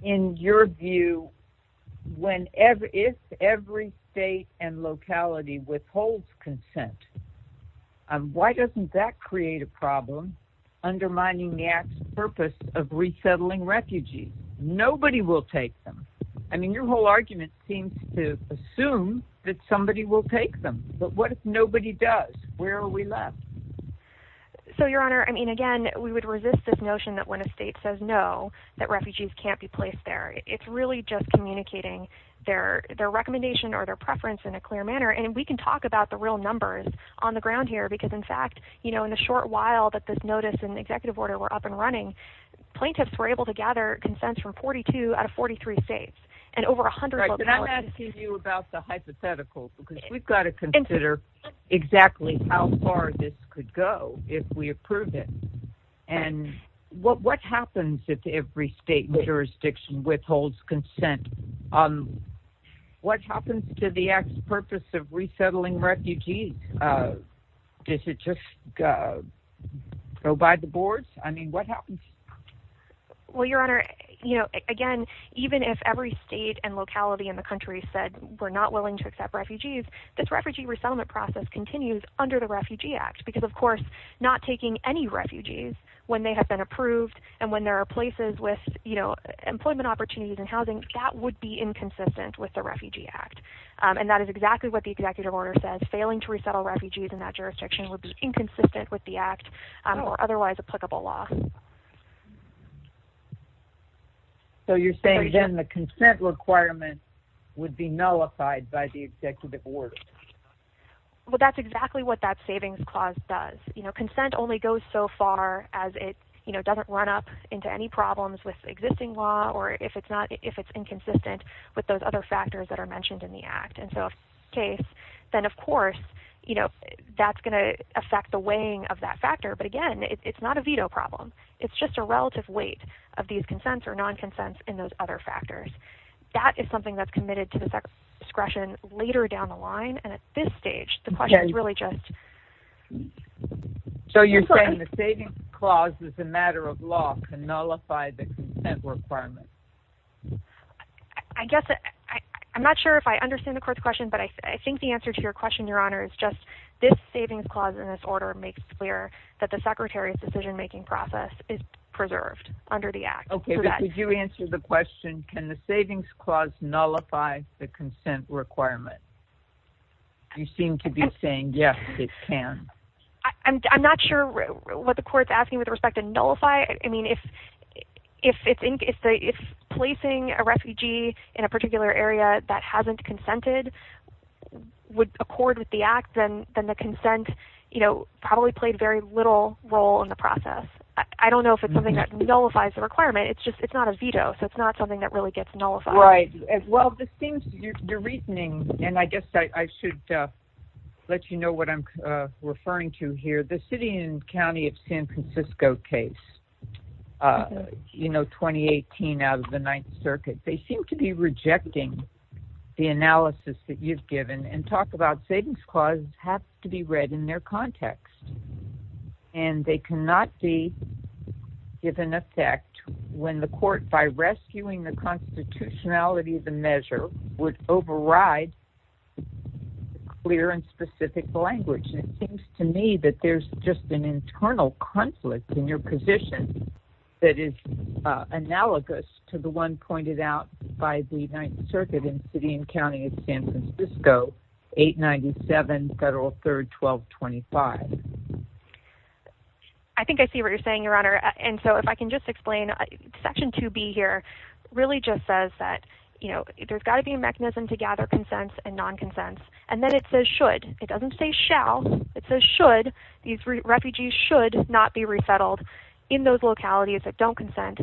in your view, if every state and locality withholds consent? Why doesn't that create a problem undermining the act's purpose of resettling refugees? Nobody will take them. I mean, your whole argument seems to assume that somebody will take them. But what if nobody does? Where are we left? So, Your Honor, I mean, again, we would resist this notion that when a state says no, that refugees can't be placed there. It's really just communicating their recommendation or their preference in a clear manner. And we can talk about the real numbers on the ground here because, in fact, in the short while that this notice and executive order were up and running, plaintiffs were able to gather consents from 42 out of 43 states and over 100 localities. Right, but I'm asking you about the hypothetical because we've got to consider exactly how far this could go if we approve it. And what happens if every state and jurisdiction withholds consent? What happens to the act's purpose of resettling refugees? Does it just go by the boards? I mean, what happens? Well, Your Honor, again, even if every state and locality in the country said we're not willing to accept refugees, this refugee resettlement process continues under the Refugee Act because, of course, not taking any refugees when they have been approved and when there are places with employment opportunities and housing, that would be inconsistent with the Refugee Act. And that is exactly what the executive order says. Failing to resettle refugees in that jurisdiction would be inconsistent with the act or otherwise applicable law. So you're saying, then, the consent requirement would be nullified by the executive order? Well, that's exactly what that savings clause does. Consent only goes so far as it doesn't run up into any problems with existing law or if it's inconsistent with those other factors that are mentioned in the act. And so if that's the case, then, of course, that's going to affect the weighing of that factor. But, again, it's not a veto problem. It's just a relative weight of these consents or non-consents in those other factors. That is something that's committed to the discretion later down the line. And at this stage, the question is really just... So you're saying the savings clause is a matter of law to nullify the consent requirement? I guess I'm not sure if I understand the court's question, but I think the answer to your question, Your Honor, is just this savings clause in this order makes clear that the secretary's decision-making process is preserved under the act. Okay, but could you answer the question, can the savings clause nullify the consent requirement? You seem to be saying, yes, it can. I'm not sure what the court's asking with respect to nullify. I mean, if placing a refugee in a particular area that hasn't consented would accord with the act, then the consent probably played very little role in the process. I don't know if it's something that nullifies the requirement. It's not a veto, so it's not something that really gets nullified. Right. Well, this seems to be your reasoning, and I guess I should let you know what I'm referring to here. The city and county of San Francisco case, you know, 2018 out of the Ninth Circuit, they seem to be rejecting the analysis that you've given, and talk about savings clauses have to be read in their context. And they cannot be given effect when the court, by rescuing the constitutionality of the measure, would override clear and specific language. It seems to me that there's just an internal conflict in your position that is analogous to the one pointed out by the Ninth Circuit in city and county of San Francisco, 897 Federal 3rd 1225. I think I see what you're saying, Your Honor. And so if I can just explain, Section 2B here really just says that, you know, there's got to be a mechanism to gather consents and non-consents. And then it says should. It doesn't say shall. It says should. These refugees should not be resettled in those localities that don't consent,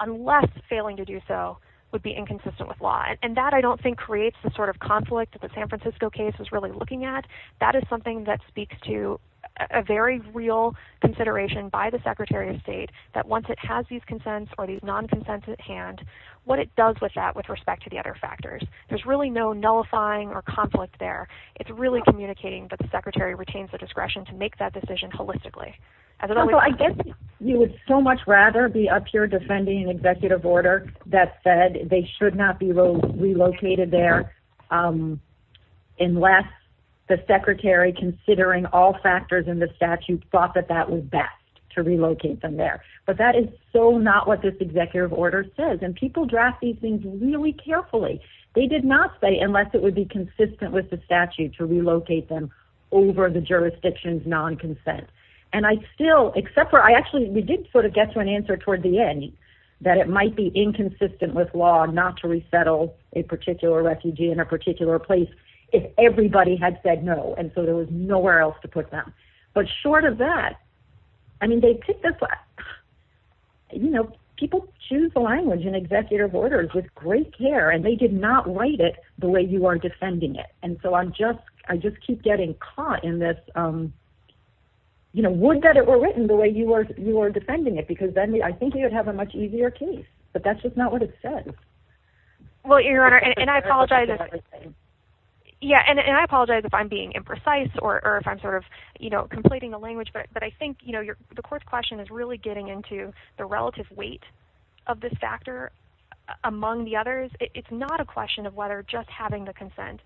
unless failing to do so would be inconsistent with law. And that, I don't think, creates the sort of conflict that the San Francisco case was really looking at. That is something that speaks to a very real consideration by the Secretary of State, that once it has these consents or these non-consents at hand, what it does with that with respect to the other factors. There's really no nullifying or conflict there. It's really communicating that the Secretary retains the discretion to make that decision holistically. Also, I guess you would so much rather be up here defending an executive order that said they should not be relocated there unless the Secretary, considering all factors in the statute, thought that that was best, to relocate them there. But that is so not what this executive order says. And people draft these things really carefully. They did not say, unless it would be consistent with the statute, to relocate them over the jurisdiction's non-consent. And I still, except for, I actually, we did sort of get to an answer toward the end, that it might be inconsistent with law not to resettle a particular refugee in a particular place if everybody had said no, and so there was nowhere else to put them. But short of that, I mean, people choose the language in executive orders with great care, and they did not write it the way you are defending it. And so I just keep getting caught in this, you know, would that it were written the way you are defending it, because then I think you would have a much easier case. But that's just not what it says. Well, Your Honor, and I apologize if I'm being imprecise or if I'm sort of, you know, completing the language, but I think, you know, the court's question is really getting into the relative weight of this factor among the others. It's not a question of whether just having the consent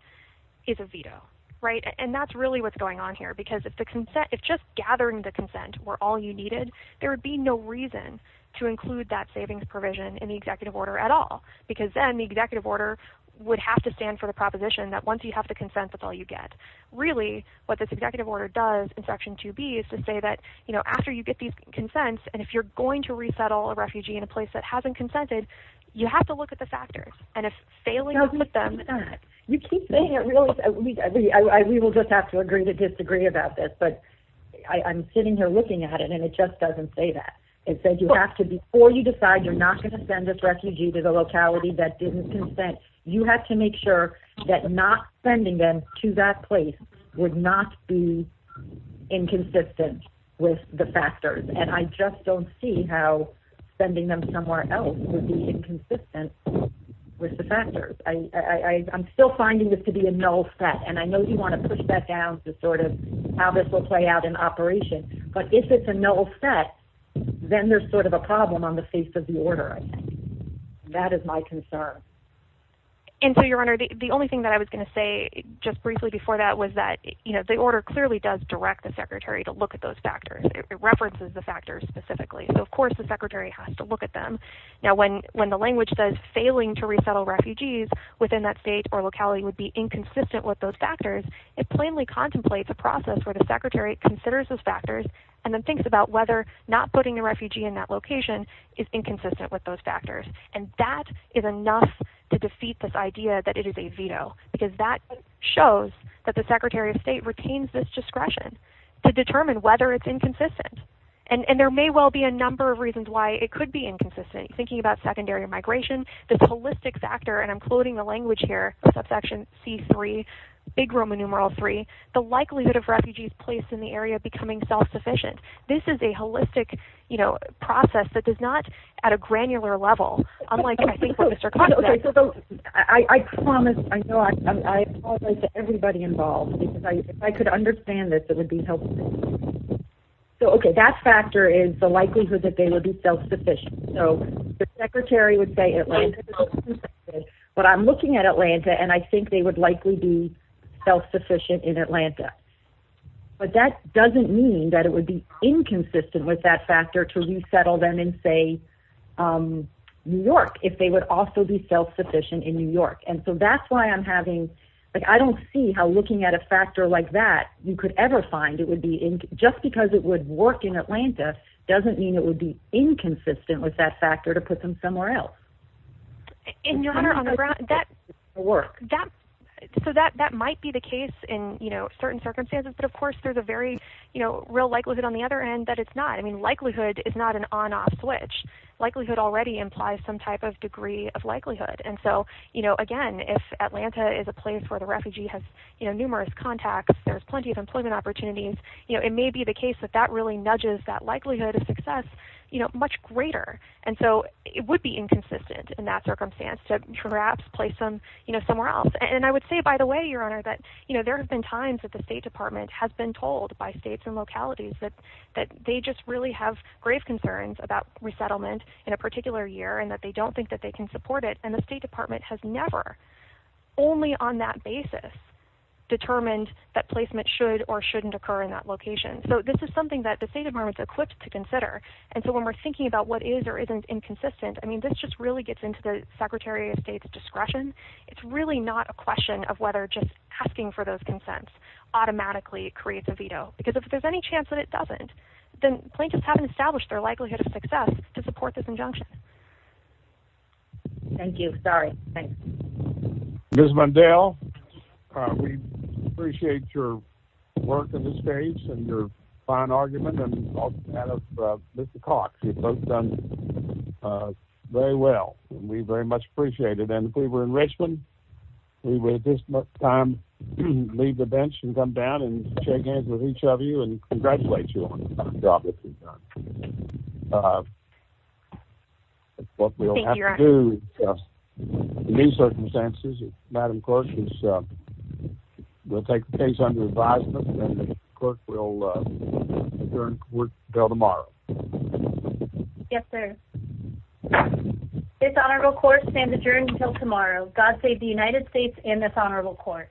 is a veto, right? And that's really what's going on here, because if the consent, if just gathering the consent were all you needed, there would be no reason to include that savings provision in the executive order at all, because then the executive order would have to stand for the proposition that once you have the consent, that's all you get. Really, what this executive order does in Section 2B is to say that, you know, after you get these consents and if you're going to resettle a refugee in a place that hasn't consented, you have to look at the factors. And if failing to put them in that. You keep saying it really, we will just have to agree to disagree about this, but I'm sitting here looking at it, and it just doesn't say that. It says you have to, before you decide you're not going to send a refugee to the locality that didn't consent, you have to make sure that not sending them to that place would not be inconsistent with the factors. And I just don't see how sending them somewhere else would be inconsistent with the factors. I'm still finding this to be a null set. And I know you want to push that down to sort of how this will play out in operation. But if it's a null set, then there's sort of a problem on the face of the order, I think. That is my concern. And so, Your Honor, the only thing that I was going to say just briefly before that was that, you know, the order clearly does direct the secretary to look at those factors. It references the factors specifically. So, of course, the secretary has to look at them. Now, when the language says failing to resettle refugees within that state or locality would be inconsistent with those factors, it plainly contemplates a process where the secretary considers those factors and then thinks about whether not putting a refugee in that location is inconsistent with those factors. And that is enough to defeat this idea that it is a veto, because that shows that the secretary of state retains this discretion to determine whether it's inconsistent. And there may well be a number of reasons why it could be inconsistent, thinking about secondary migration, the holistic factor, and I'm quoting the language here, subsection C3, big Roman numeral three, the likelihood of refugees placed in the area becoming self-sufficient. This is a holistic, you know, process that is not at a granular level, unlike I think what Mr. Cox said. I promise, I know, I apologize to everybody involved, because if I could understand this, it would be helpful. So, okay, that factor is the likelihood that they would be self-sufficient. So the secretary would say Atlanta is self-sufficient, but I'm looking at Atlanta and I think they would likely be self-sufficient in Atlanta. But that doesn't mean that it would be inconsistent with that factor to resettle them in, say, New York, if they would also be self-sufficient in New York. And so that's why I'm having, like, I don't see how looking at a factor like that, you could ever find it would be, just because it would work in Atlanta, doesn't mean it would be inconsistent with that factor to put them somewhere else. And, Your Honor, on the ground, that, so that might be the case in, you know, certain circumstances, but of course there's a very, you know, real likelihood on the other end that it's not. I mean, likelihood is not an on-off switch. Likelihood already implies some type of degree of likelihood. And so, you know, again, if Atlanta is a place where the refugee has, you know, numerous contacts, there's plenty of employment opportunities, you know, it may be the case that that really nudges that likelihood of success, you know, much greater. And so it would be inconsistent in that circumstance to perhaps place them, you know, somewhere else. And I would say, by the way, Your Honor, that, you know, there have been times that the State Department has been told by states and localities that they just really have grave concerns about resettlement in a particular year and that they don't think that they can support it. And the State Department has never, only on that basis, determined that placement should or shouldn't occur in that location. So this is something that the State Department is equipped to consider. And so when we're thinking about what is or isn't inconsistent, I mean, this just really gets into the Secretary of State's discretion. It's really not a question of whether just asking for those consents automatically creates a veto. Because if there's any chance that it doesn't, then plaintiffs haven't established their likelihood of success to support this injunction. Thank you. Sorry. Ms. Mundell, we appreciate your work in this case and your fine argument. And Mr. Cox, you've both done very well. We very much appreciate it. And if we were in Richmond, we would at this time leave the bench and come down and shake hands with each of you and congratulate you on the job that you've done. That's what we'll have to do in these circumstances. Madam Clerk, we'll take the case under advisement and the court will adjourn until tomorrow. Yes, sir. This honorable court stands adjourned until tomorrow. God save the United States and this honorable court.